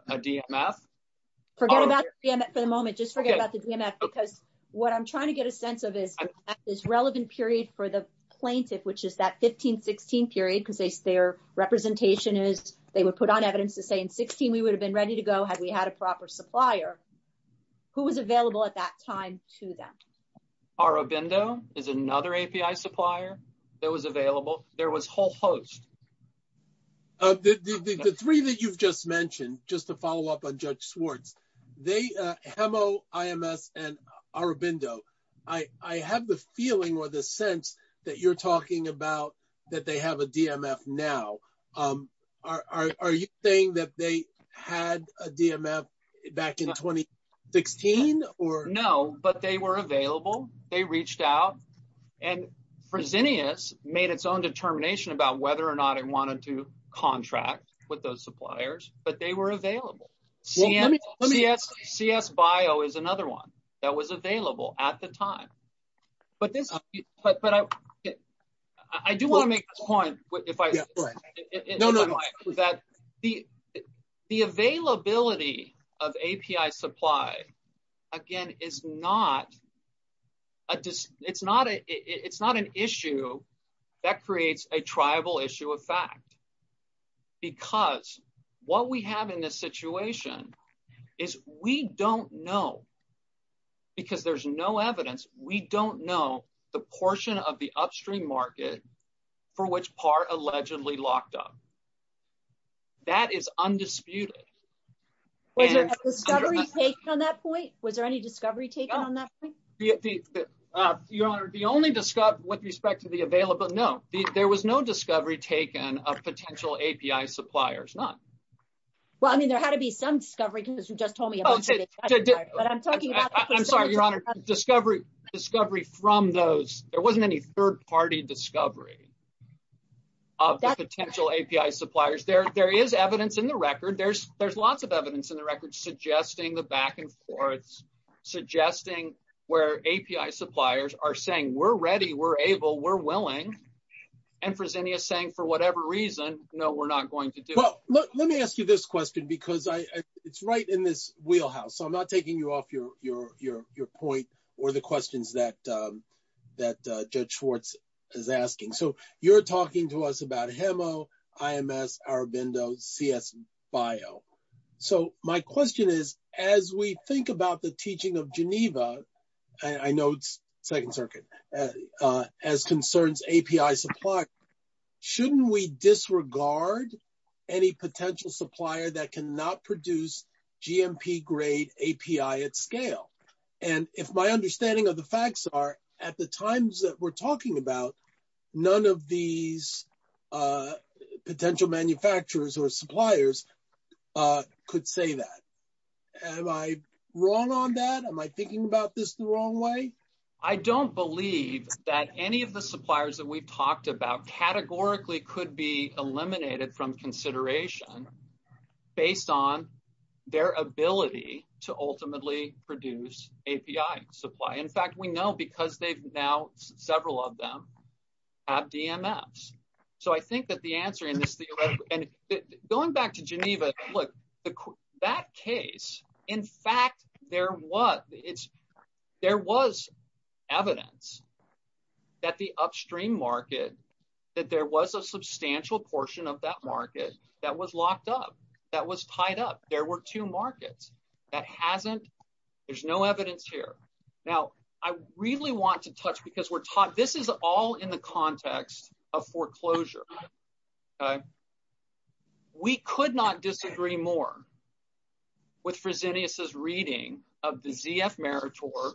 DMF. Forget about the DMF for the moment. Just forget about the DMF because what I'm trying to get a sense of is at this relevant period for the plaintiff, which is that 15, 16 period, because they say their representation is, they would put on evidence to say in 16, we would have been ready to go. Had we had a proper supplier who was available at that time to them. Aurobindo is another API supplier that was available. There was whole host. The three that you've just mentioned, just to follow up on judge Swartz, they HEMO, IMS and Aurobindo. I have the feeling or the sense that you're talking about that. They have a DMF now. Are you saying that they had a DMF back in 2016? No, but they were available. They reached out and Fresenius made its own determination about whether or not it wanted to contract with those suppliers, but they were available. CS Bio is another one that was available at the time. I do want to make this point. The availability of API supply, again, it's not an issue that creates a tribal issue of fact, because what we have in this situation is we don't know because there's no evidence. We don't know the portion of the upstream market for which part allegedly locked up. That is undisputed. Was there a discovery taken on that point? Was there any discovery taken on that point? The only discovery with respect to the available note, there was no discovery taken of potential API suppliers, none. Well, I mean, there had to be some discovery because you just told me. I'm sorry, your honor, discovery, discovery from those, there wasn't any third party discovery of potential API suppliers. There, there is evidence in the record. There's, there's lots of evidence in the record suggesting the back and forth, suggesting where API suppliers are saying we're ready, we're able, we're willing and presenting a saying for whatever reason, no, we're not going to do it. Let me ask you this question because it's right in this wheelhouse. So I'm not taking you off your, your, your, your point or the questions that that judge Schwartz is asking. So you're talking to us about HEMO, IMS, Arbindo, CS Bio. I know it's second circuit as concerns API supply. Shouldn't we disregard any potential supplier that can not produce GMP grade API at scale? And if my understanding of the facts are at the times that we're talking about, none of these potential manufacturers or suppliers could say that. Am I wrong on that? Am I thinking about this the wrong way? I don't believe that any of the suppliers that we've talked about categorically could be eliminated from consideration based on their ability to ultimately produce API supply. In fact, we know because they've now several of them have DMS. So I think that the answer in this, going back to Geneva, look, that case, in fact, there was, there was evidence that the upstream market, that there was a substantial portion of that market that was locked up, that was tied up. There were two markets that hasn't, there's no evidence here. Now I really want to touch because we're taught, this is all in the context of foreclosure. We could not disagree more with Fresenius' reading of the ZF Meritor,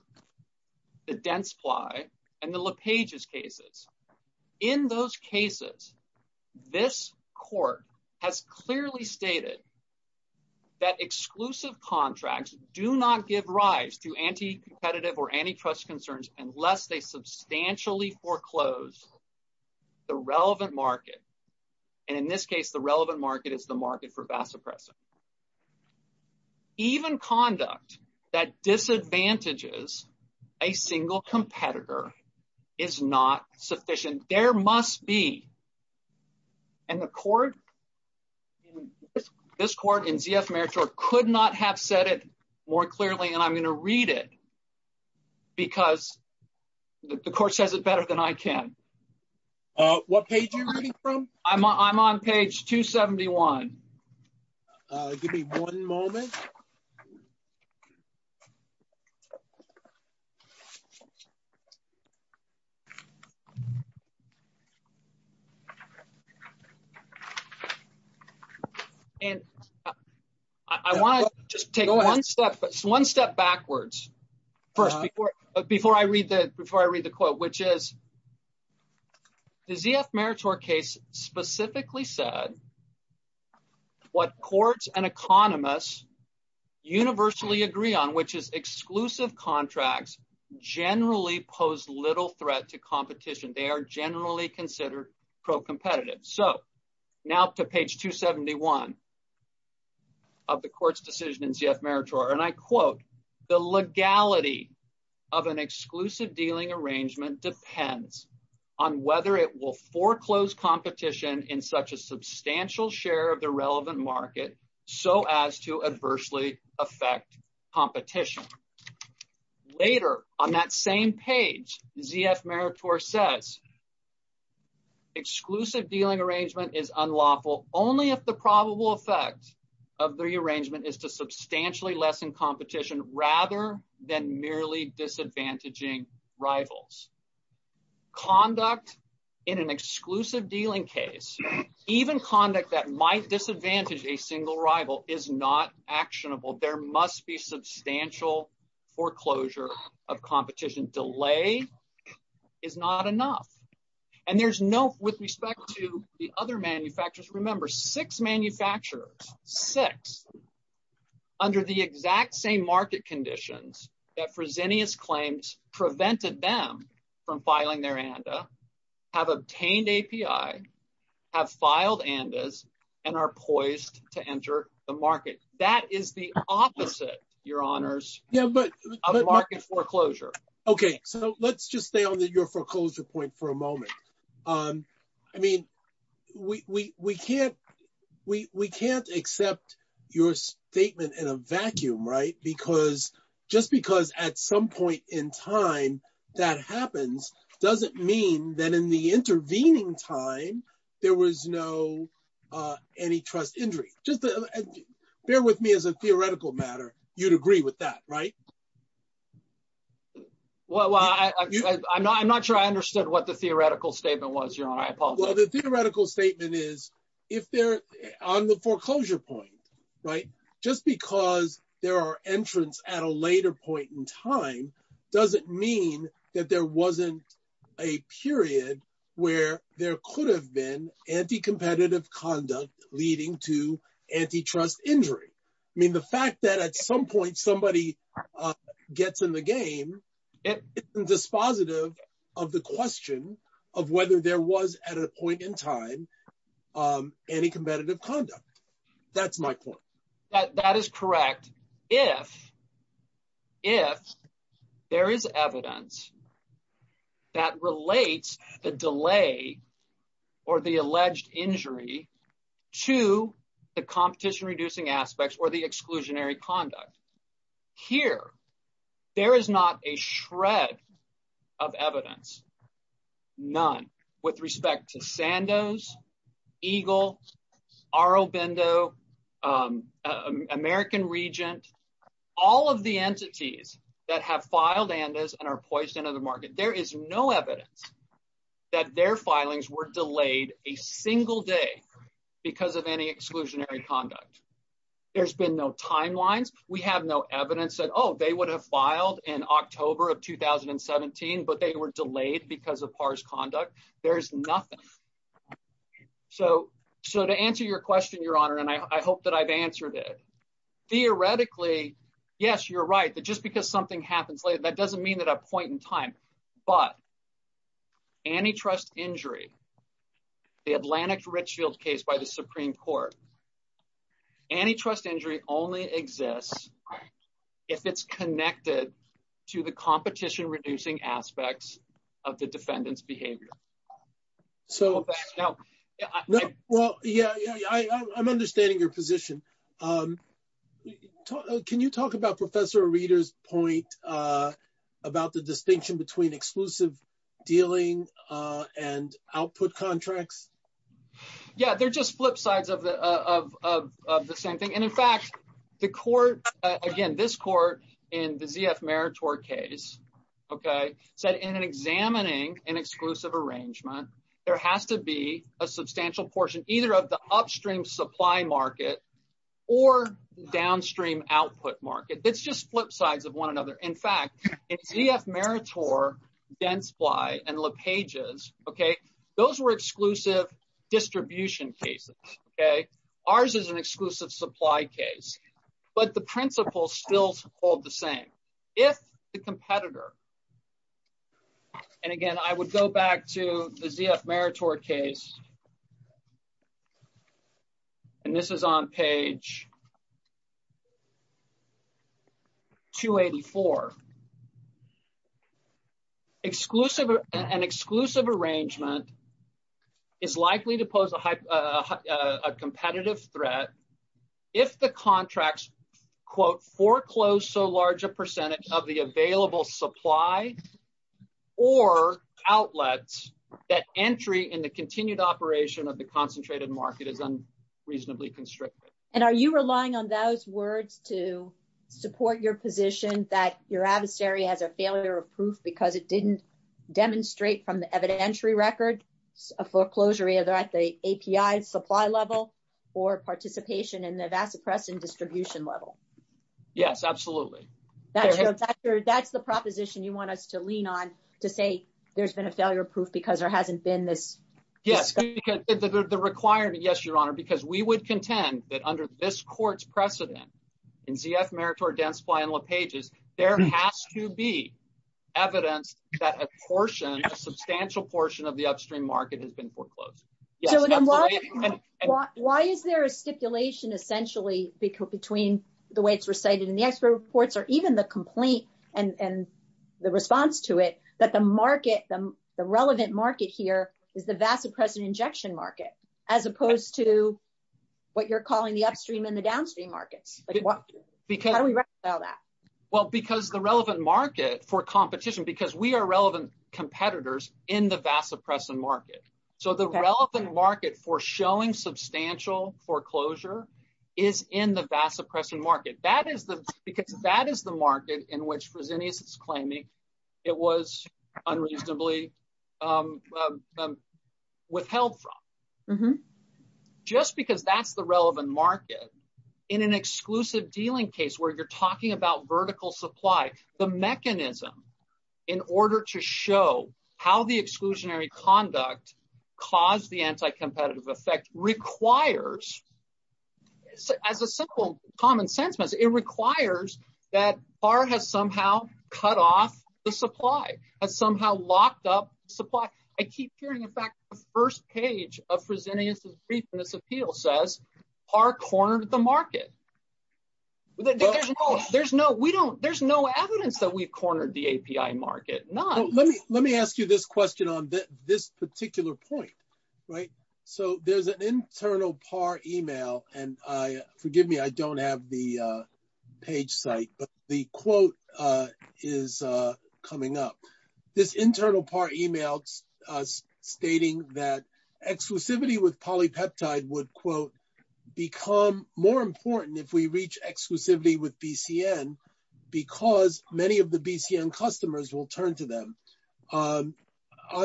the Dentsply and the LePage's cases. In those cases, this court has clearly stated that exclusive contracts do not give rise to anti-competitive or antitrust concerns unless they substantially foreclose the relevant market. And in this case, the relevant market is the market for vasopressin. Even conduct that disadvantages a single competitor is not sufficient. There must be, and the court, this court and ZF Meritor could not have said it more clearly. And I'm going to read it because the court says it better than I can. What page are you reading from? I'm on page 271. Give me one moment. And I want to just take one step, one step backwards first before I read the quote, which is the ZF Meritor case specifically said what courts and economists universally agree on, which is exclusive contracts generally pose little threat to competition. They are generally considered pro-competitive. So now to page 271 of the court's decision in ZF Meritor, and I quote the legality of an exclusive dealing arrangement depends on whether it will foreclose competition in such a substantial share of the relevant market. So as to adversely affect competition later on that same page, ZF Meritor says exclusive dealing arrangement is unlawful only if the competition is merely assessing competition rather than merely disadvantaging rivals. Conduct in an exclusive dealing case, even conduct that might disadvantage a single rival is not actionable. There must be substantial foreclosure of competition. Delay is not enough. And there's no with respect to the other manufacturers. Remember six manufacturers, six under the exact same market conditions that Fresenius claims prevented them from filing their ANDA, have obtained API, have filed ANDAs and are poised to enter the market. That is the opposite your honors of market foreclosure. Okay. So let's just stay on your foreclosure point for a moment. I mean, we can't, we can't accept your statement in a vacuum, right? Because just because at some point in time that happens doesn't mean that in the intervening time there was no antitrust injury. Just bear with me as a theoretical matter. You'd agree with that, right? Well, I'm not, I'm not sure I understood what the theoretical statement was your honor. Well, the theoretical statement is if they're on the foreclosure point, right, just because there are entrants at a later point in time doesn't mean that there wasn't a period where there could have been anti-competitive conduct leading to antitrust injury. I mean, the fact that at some point somebody gets in the game, it's dispositive of the question of whether there was at a point in time, any competitive conduct. That's my point. That is correct. If, if there is evidence that relates the delay or the alleged injury to the competition, reducing aspects or the exclusionary conduct here, there is not a shred of evidence, none with respect to Sandoz, Eagle, Aurobindo, American Regent, all of the entities that have filed and are poised into the market. There is no evidence that their filings were delayed a single day because of any exclusionary conduct. There's been no timelines. We have no evidence that, Oh, they would have filed in October of 2017 but they were delayed because of harsh conduct. There's nothing. So, so to answer your question, Your Honor, and I hope that I've answered it. Theoretically, yes, you're right. But just because something happened, that doesn't mean that a point in time, but antitrust injury, the Atlantic Red Shield case by the Supreme Court, antitrust injury only exists if it's connected to the competition, reducing aspects of the defendant's behavior. Well, yeah, I'm understanding your position. Can you talk about Professor Arita's point about the distinction between exclusive dealing and output contracts? Yeah, they're just flip sides of the, of, of, of the same thing. And in fact, the court, again, this court in the VF Meritor case, okay. So in an examining and exclusive arrangement, there has to be a substantial portion, either of the upstream supply market or downstream output market. It's just flip sides of one another. In fact, VF Meritor dense fly and look pages. Okay. Those were exclusive distribution cases. Okay. Ours is an exclusive supply case, but the principles still hold the same. If the competitor, and again, I would go back to the VF Meritor case, and this is on page 284. Exclusive and exclusive arrangement is likely to pose a hype, a competitive threat. If the contracts quote, foreclosed so large a percentage of the available supply or outlets that entry in the continued operation of the concentrated market has been reasonably constricted. And are you relying on those words to support your position that your adversary has a failure of proof because it didn't demonstrate from the evident entry record of foreclosure either at the API supply level or participation in the vast oppression distribution level? Yes, absolutely. That's the proposition you want us to lean on to say there's been a failure of proof because there hasn't been this. Yes. The required to yes, your honor, because we would contend that under this court's precedent in VF Meritor dense final pages, there has to be evidence that a portion substantial portion of the upstream market has been foreclosed. Why is there a stipulation essentially between the way it's recited in the expert reports or even the complaint and the response to it, that the market, the relevant market here is the vast present injection market, as opposed to what you're calling the upstream and the downstream market. How do we reconcile that? Well, because the relevant market for competition, because we are relevant competitors in the vast oppressive market. So the relevant market for showing substantial foreclosure is in the vast oppression market. That is the, because that is the market in which was any claiming it was unreasonably exclusive dealing case where you're talking about vertical supply, the mechanism in order to show how the exclusionary conduct caused the anti-competitive effect requires as a simple common sentence, it requires that far has somehow cut off the supply and somehow locked up supply. I keep hearing it back. The first page of presenting us as briefness appeal says are cornered the API market. There's no, there's no, we don't, there's no evidence that we've cornered the API market. Let me ask you this question on this particular point, right? So there's an internal par email and I forgive me. I don't have the page site, but the quote is coming up. This internal par email stating that exclusivity with polypeptide would quote become more important if we reach exclusively with BCN because many of the BCN customers will turn to them on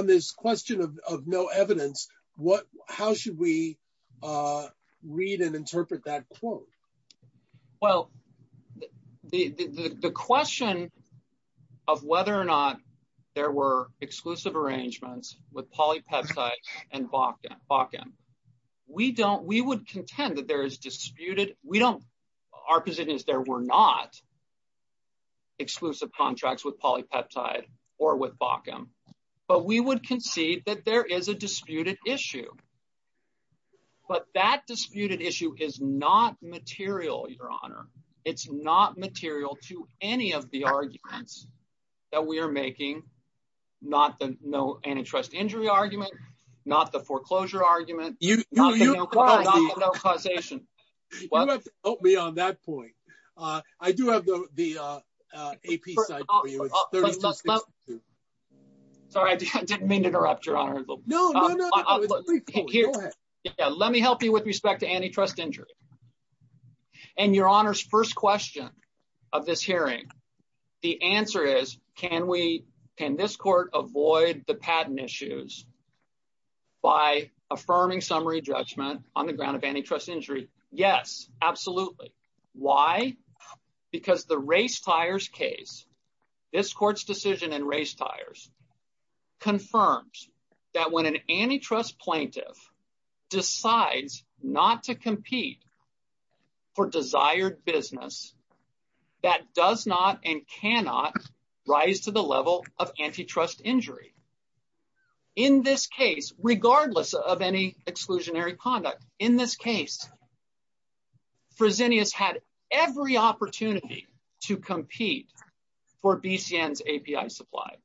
this question of, of no evidence. What, how should we read and interpret that quote? Well, the, the, the question of whether or not there were exclusive arrangements with polypeptide and Hawkins Hawkins, we don't, we would contend that there is disputed. We don't, our position is there. We're not exclusive contracts with polypeptide or with Bauckham, but we would concede that there is a disputed issue, but that disputed issue is not material. Your honor, it's not material to any of the arguments that we are making, not the no antitrust injury argument, not the foreclosure argument, not the no causation. You don't have to quote me on that point. I do have the AP site. Sorry, I didn't mean to interrupt your honor. Let me help you with respect to antitrust injury and your honors. First question of this hearing. The answer is, can we, can this court avoid the patent issues by affirming summary judgment on the ground of antitrust injury? Yes, absolutely. Why? Because the race tires case, this court's decision and race tires confirms that when an antitrust plaintiff decides not to compete for desired business, that does not and cannot rise to the level of antitrust injury. In this case, regardless of any exclusionary conduct in this case, Fresenius had every opportunity to compete for BCN's API supply.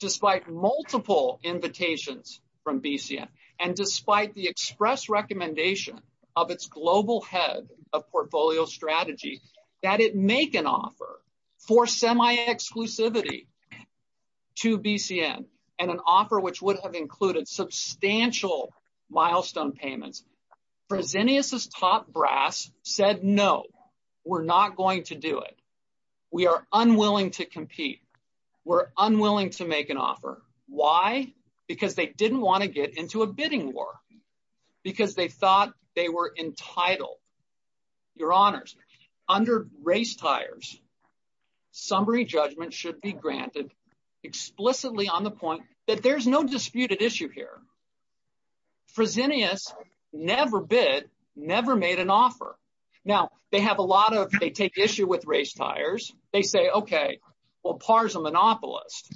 Despite multiple invitations from BCN and despite the express recommendation of its global head of portfolio strategy, that it make an offer for semi exclusivity to BCN and an offer which would have included substantial milestone payments. Fresenius' top brass said, no, we're not going to do it. We are unwilling to compete. We're unwilling to make an offer. Why? Because they didn't want to get into a bidding war because they thought they were entitled. Your honors, under race tires summary judgment should be granted explicitly on the point that there's no disputed issue here. Fresenius never bid, never made an offer. Now they have a lot of, they take issue with race tires. They say, okay, well, the monopolist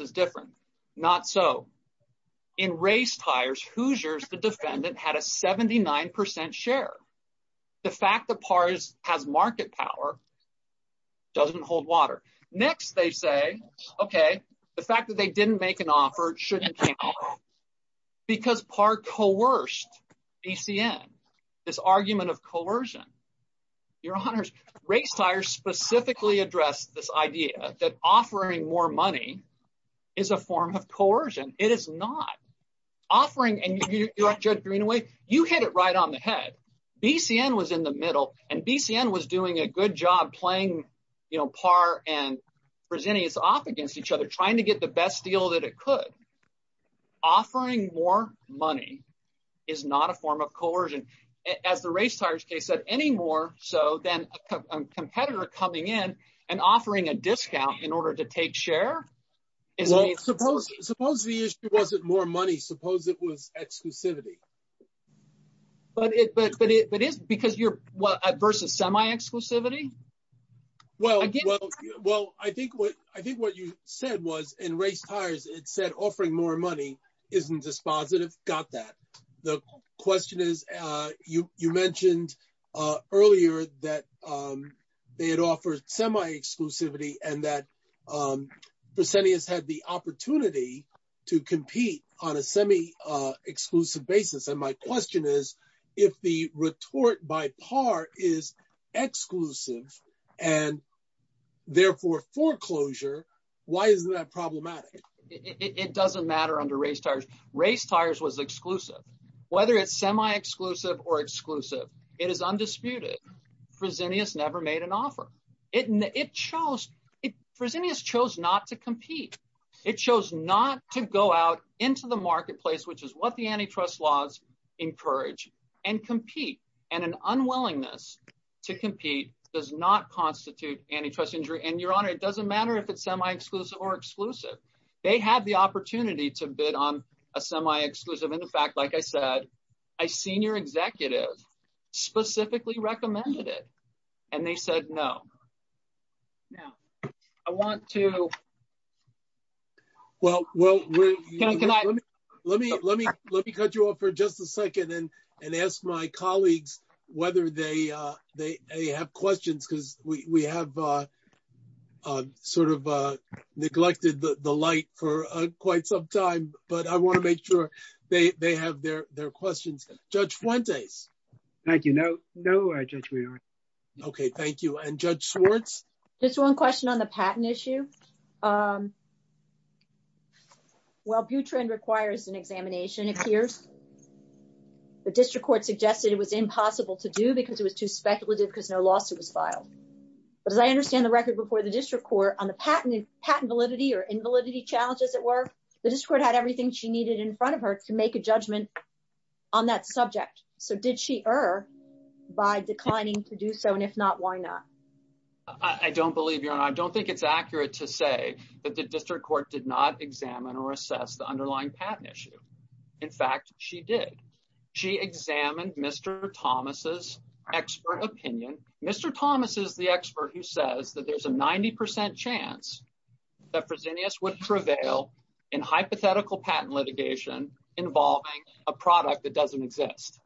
is different. Not so. In race tires, Hoosiers the defendant had a 79% share. The fact that pars has market power doesn't hold water. Next, they say, okay, the fact that they didn't make an offer, it shouldn't be because part coerced BCN, this argument of coercion. Your honors, race tires specifically address this idea that offering more money is a form of coercion. It is not offering. And you have Joe Greenaway, you hit it right on the head. BCN was in the middle and BCN was doing a good job playing par and presenting it's off against each other, trying to get the best deal that it could offering more money is not a form of coercion as the race tires case at any more. So then a competitor coming in and offering a discount in order to take share. Well, suppose, suppose the issue wasn't more money. Suppose it was exclusivity, but it, but, but it, but it's because you're versus semi exclusivity. Well, well, well, I think what, I think what you said was in race tires, it said offering more money isn't dispositive. Got that. The question is, uh, you, you mentioned, uh, earlier that, um, they had offered semi exclusivity and that, um, the city has had the opportunity to compete on a semi, uh, exclusive basis. And my question is if the retort by par is exclusive and therefore foreclosure, why is that problematic? It doesn't matter under race tires. Race tires was exclusive, whether it's semi exclusive or exclusive, it is undisputed. Presidio has never made an offer. It, it shows it. Presidio has chose not to compete. It chose not to go out into the marketplace, which is what the antitrust laws encourage and compete. And an unwillingness to compete does not constitute antitrust injury. And your honor, it doesn't matter if it's semi exclusive or exclusive, they had the opportunity to bid on a semi exclusive. And in fact, like I said, I seen your executive specifically recommended it. And they said, no, no, I want to. Well, well, let me, let me, let me cut you off for just a second and ask my colleagues whether they, uh, they, they have questions. Cause we, we have, uh, uh, sort of, uh, neglected the light for quite some time, but I want to make sure they have their, their questions. Judge Fuentes. Thank you. No, no. Okay. Thank you. And judge Schwartz. Just one question on the patent issue. Um, well, butren requires an examination. The district court suggested it was impossible to do because it was too speculative because no lawsuit was filed. But as I understand the record before the district court on the patent patent validity or invalidity challenges at work, the district had everything she needed in front of her to make a judgment on that subject. So did she err by declining to do so? And if not, why not? I don't believe you're on. I don't think it's accurate to say that the district court did not examine or assess the underlying patent issue. In fact, she did. She examined Mr. Thomas's expert opinion. Mr. Thomas is the expert who says that there's a 90% chance that Virginia's would prevail in hypothetical patent litigation involving a product that doesn't exist.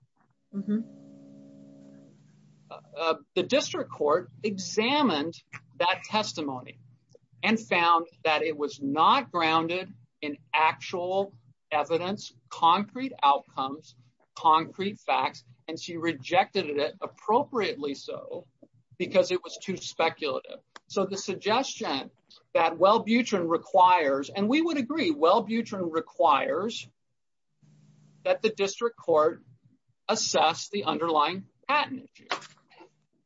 The district court examined that testimony and found that it was not grounded in actual evidence, concrete outcomes, concrete facts, and she rejected it appropriately so because it was too speculative. So the suggestion that well, butren requires, and we would agree. Well, butren requires that the district court assess the underlying patent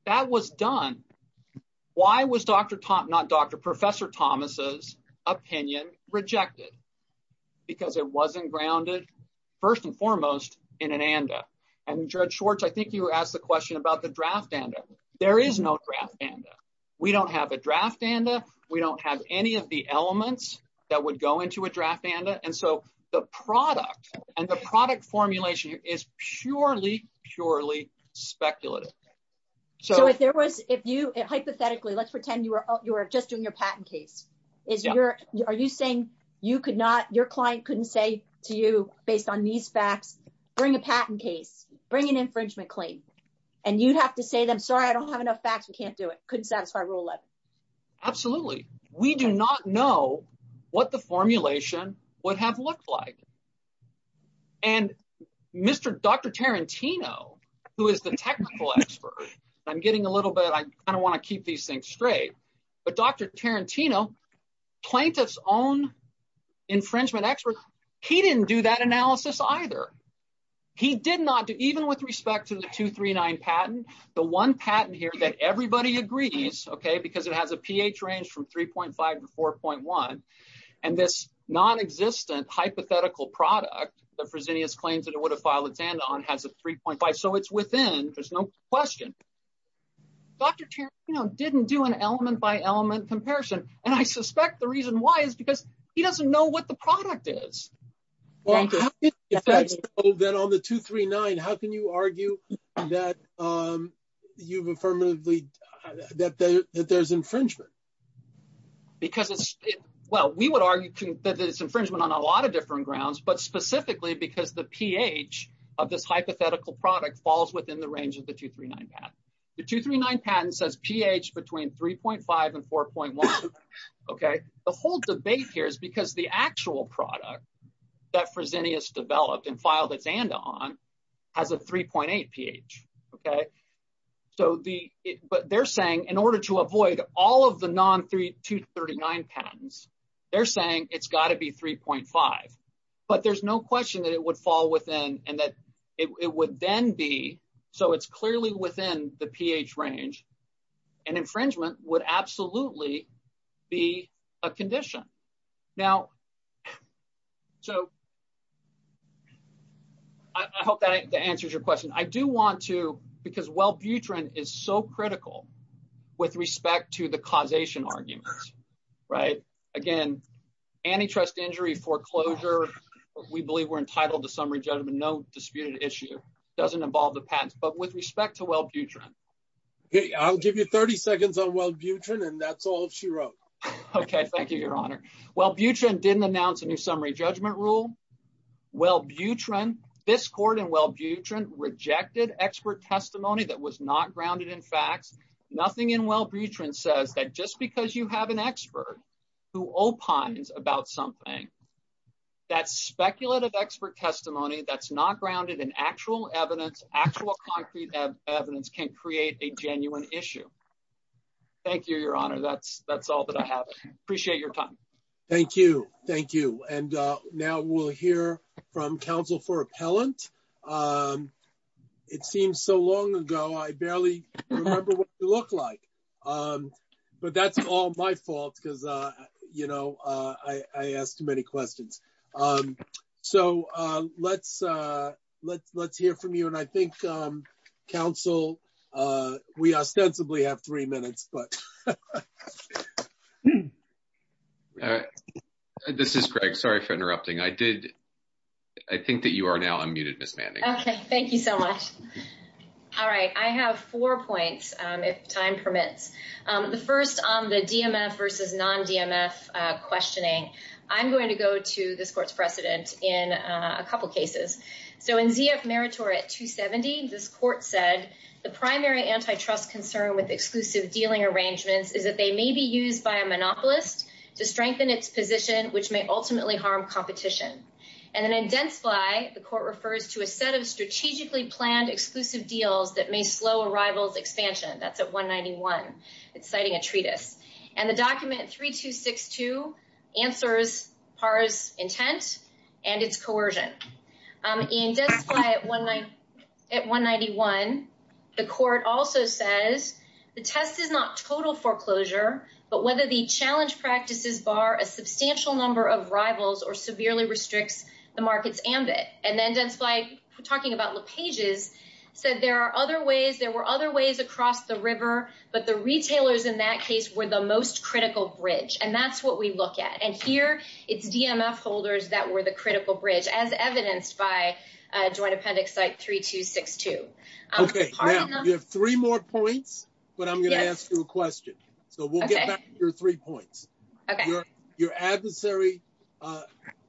that was done. Why was Dr. Tom, not Dr. Professor Thomas's opinion rejected because it wasn't grounded. First and foremost in an ANDA. I mean, George Schwartz, I think you asked the question about the draft ANDA. There is no draft ANDA. We don't have a draft ANDA. We don't have any of the elements that would go into a draft ANDA. And so the product and the product formulation is purely, purely speculative. So if there was, if you hypothetically, let's pretend you were, you were just doing your patent case. If you're, are you saying you could not, your client couldn't say to you based on these facts, bring a patent case, bring an infringement claim. And you'd have to say to them, sorry, I don't have enough facts. We can't do it. Couldn't satisfy rule 11. Absolutely. We do not know what the formulation would have looked like. And Mr. Dr. Tarantino, who is the technical expert, I'm getting a little bit, I kind of want to keep these things straight, but Dr. Tarantino plaintiff's own infringement experts. He didn't do that analysis either. He did not do, even with respect to the two, three, nine patents, the one patent here that everybody agrees. Okay. Because it has a pH range from 3.5 to 4.1. And this non-existent hypothetical product, the presidents claims that it would have filed a stand on has a 3.5. So it's within, there's no question. Dr. Tarantino didn't do an element by element comparison. And I suspect the reason why is because he doesn't know what the product is. Then on the two, three, nine, how can you argue that you've affirmatively, that there's infringement? Well, we would argue that it's infringement on a lot of different grounds, but specifically because the pH of this hypothetical product falls within the two, three, nine patent. The two, three, nine patent says pH between 3.5 and 4.1. Okay. The whole debate here is because the actual product that Fresenius developed and filed a stand on has a 3.8 pH. Okay. So the, but they're saying in order to avoid all of the non three, two 39 patents, they're saying it's gotta be 3.5, but there's no question that it would fall within and that it would then be. So it's clearly within the pH range and infringement would absolutely be a condition now. So I hope that answers your question. I do want to, because while Buterin is so critical with respect to the causation argument, right? Again, antitrust injury foreclosure, we believe we're entitled to summary judgment, and no disputed issue doesn't involve the patent, but with respect to Wellbutrin. I'll give you 30 seconds on Wellbutrin and that's all she wrote. Okay. Thank you, your honor. Wellbutrin didn't announce any summary judgment rule. Wellbutrin, this court in Wellbutrin rejected expert testimony that was not grounded in facts. Nothing in Wellbutrin says that just because you have an expert who opines about something, that speculative expert testimony, that's not grounded in actual evidence, actual concrete evidence can create a genuine issue. Thank you, your honor. That's, that's all that I have. Appreciate your time. Thank you. Thank you. And now we'll hear from counsel for appellant. It seems so long ago, I barely remember what you look like, but that's all my fault because you know, I asked too many questions. So let's, let's, let's hear from you. And I think counsel, we ostensibly have three minutes, but this is Greg. Sorry for interrupting. I did. I think that you are now unmuted Ms. Manning. Okay. Thank you so much. All right. I have four points if time permits. The first on the DMS versus non-DMS questioning, I'm going to go to this court's precedent in a couple of cases. So in ZF Meritor at 270, this court said the primary antitrust concern with exclusive dealing arrangements is that they may be used by a monopolist to strengthen its position, which may ultimately harm competition. And then then fly. The court refers to a set of strategically planned exclusive deals that may slow arrivals expansion. That's at one 91, it's citing a treatise and the document three, two, six, two answers are intense and it's coercion. And that's why at one night at one 91, the court also says the test is not total foreclosure, but whether the challenge practices bar a substantial number of rivals or severely restrict the market's ambit. And then that's like talking about the pages said, there are other ways. There were other ways across the river, but the retailers in that case were the most critical bridge. And that's what we look at. And here it's DMS holders. That were the critical bridge as evidenced by a joint appendix, like three, two, six, two. Three more points, but I'm going to ask you a question. So we'll get back to your three points. Your adversary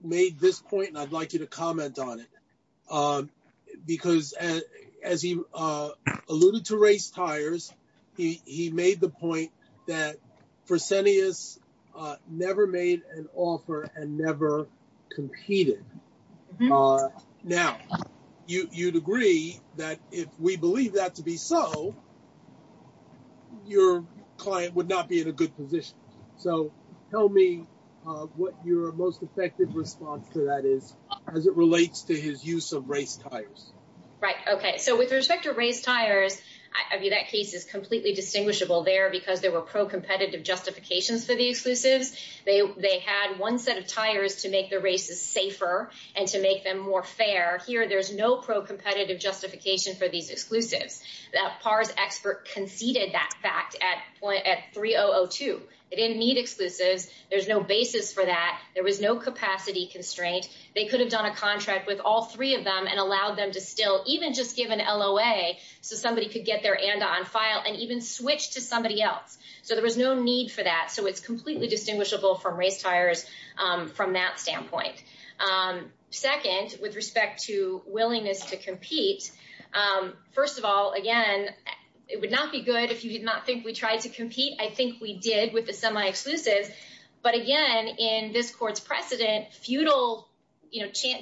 made this point and I'd like you to comment on it. Because as he alluded to race tires, he made the point that Fresenius never made an offer and never competed. Now you you'd agree that if we believe that to be so your client would not be in a good position. So tell me what your most effective response to that is as it relates to his use of race tires. Right. Okay. So with respect to race tires, I mean that case is completely distinguishable there because there were pro competitive justifications for the exclusives. They had one set of tires to make the races safer and to make them more fair here. There's no pro competitive justification for these exclusives. That PARS expert conceded that fact at point at 3002. They didn't need exclusives. There's no basis for that. There was no capacity constraint. They could have done a contract with all three of them and allow them to still even just give an LOA so somebody could get their hand on file and even switch to somebody else. So there was no need for that. So it's completely distinguishable from race tires from that standpoint. Second, with respect to willingness to compete. First of all, again, it would not be good if you did not think we tried to compete. I think we did with the semi-exclusive, but again, in this court's precedent, feudal, you know, here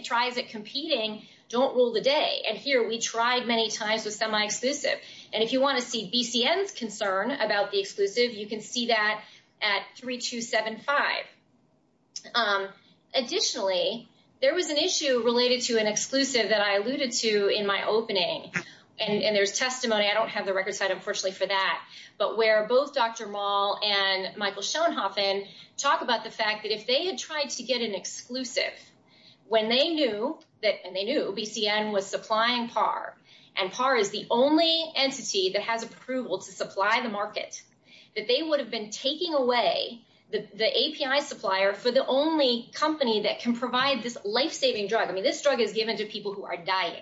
we tried many times with semi-exclusive. And if you want to see BCN's concern about the exclusive, you can see that at 3275. Additionally, there was an issue related to an exclusive that I alluded to in my opening. And there's testimony. I don't have the record side, unfortunately for that, but where both Dr. Maul and Michael Schoenhaufen talk about the fact that if they had tried to get an exclusive when they knew that, and they knew BCN was supplying PAR and PAR is the only entity that has approval to supply the market, that they would have been taking away the API supplier for the only company that can provide this lifesaving drug. I mean, this drug is given to people who are dying.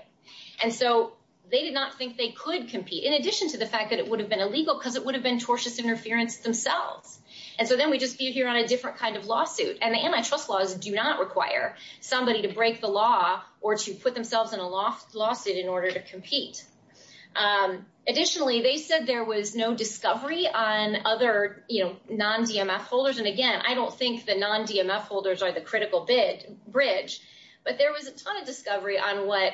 And so they did not think they could compete in addition to the fact that it would have been illegal because it would have been tortious interference themselves. And so then we just do here on a different kind of lawsuit and the antitrust laws do not require somebody to break the law or to put themselves in a lawsuit in order to compete. Additionally, they said there was no discovery on other non-DMF holders. And again, I don't think the non-DMF holders are the critical bridge, but there was a ton of discovery on what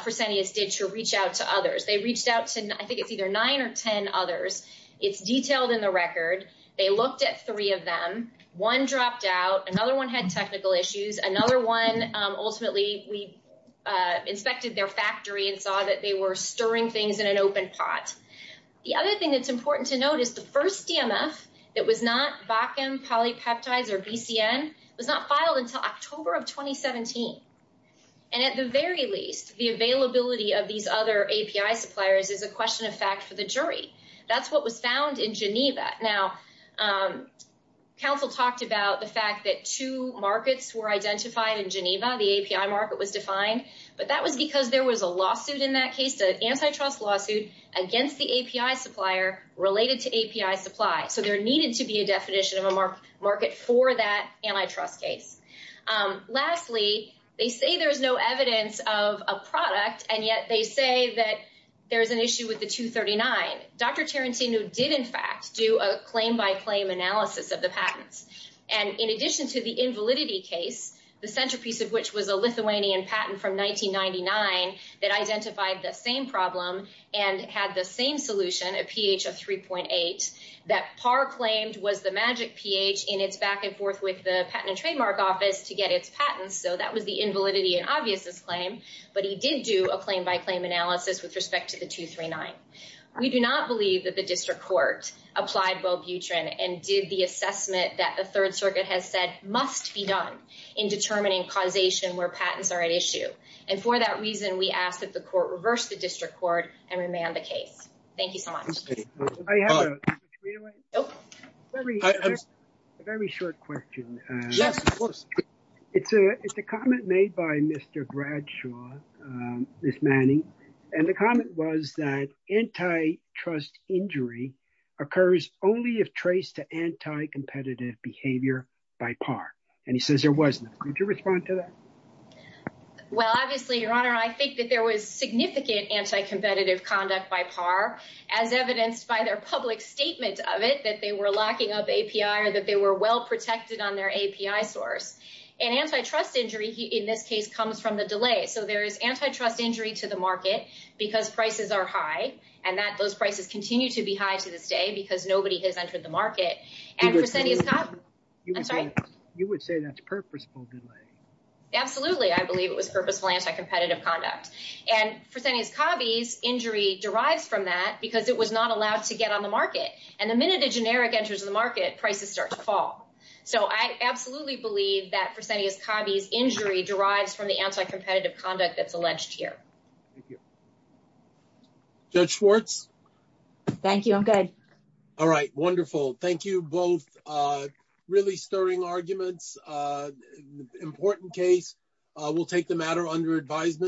Fresenius did to reach out to others. They reached out to, I think it's either nine or 10 others. It's detailed in the record. They looked at three of them, one dropped out, another one had technical issues. Another one, ultimately, we inspected their factory and saw that they were stirring things in an open spot. The other thing that's important to note is the first DMF that was not VACM, polypeptide or BCN was not filed until October of 2017. And at the very least, the availability of these other API suppliers is a question of fact to the jury. That's what was found in Geneva. Now council talked about the fact that two markets were identified in Geneva, the API market was defined, but that was because there was a lawsuit in that case, the antitrust lawsuit against the API supplier related to API supply. So there needed to be a definition of a market for that antitrust case. Lastly, they say there's no evidence of a product, and yet they say that there's an issue with the 239. Dr. Tarantino did in fact do a claim by claim analysis of the patent. And in addition to the invalidity case, the centerpiece of which was a Lithuanian patent from 1999 that identified the same problem and had the same solution, a pH of 3.8 that Parr claimed was the magic pH in his back and forth with the patent and trademark office to get his patent. So that would be invalidity and obviousness claim, but he did do a claim by claim analysis with respect to the 239. We do not believe that the district court applied both Utrecht and did the assessment that the third circuit has said must be done in determining causation where patents are at issue. And for that reason we ask that the court reverse the district court and remand the case. Thank you so much. Very short question. It's a comment made by Mr. Bradshaw, Ms. Manning, and the comment was that antitrust injury occurs only if traced to anti-competitive behavior by Parr. And he says there wasn't. Could you respond to that? Well, obviously your Honor, I think that there was significant anti-competitive conduct by Parr as evidenced by their public statements of it, that they were lacking of API or that they were well protected on their API source. And antitrust injury in this case comes from the delay. So there is antitrust injury to the market because prices are high and that those prices continue to be high to this day because nobody has entered the market. You would say that's purposeful delay. Absolutely. I believe it was purposeful anti-competitive conduct and percentage copies injury derived from that because it was not allowed to get on the market. And the minute the generic enters the market, prices start to fall. So I absolutely believe that percentage copies injury derived from the anti-competitive conduct that's alleged here. Judge Schwartz. Thank you. I'm good. All right. Wonderful. Thank you both. Really stirring arguments. Important case. We'll take the matter under advisement.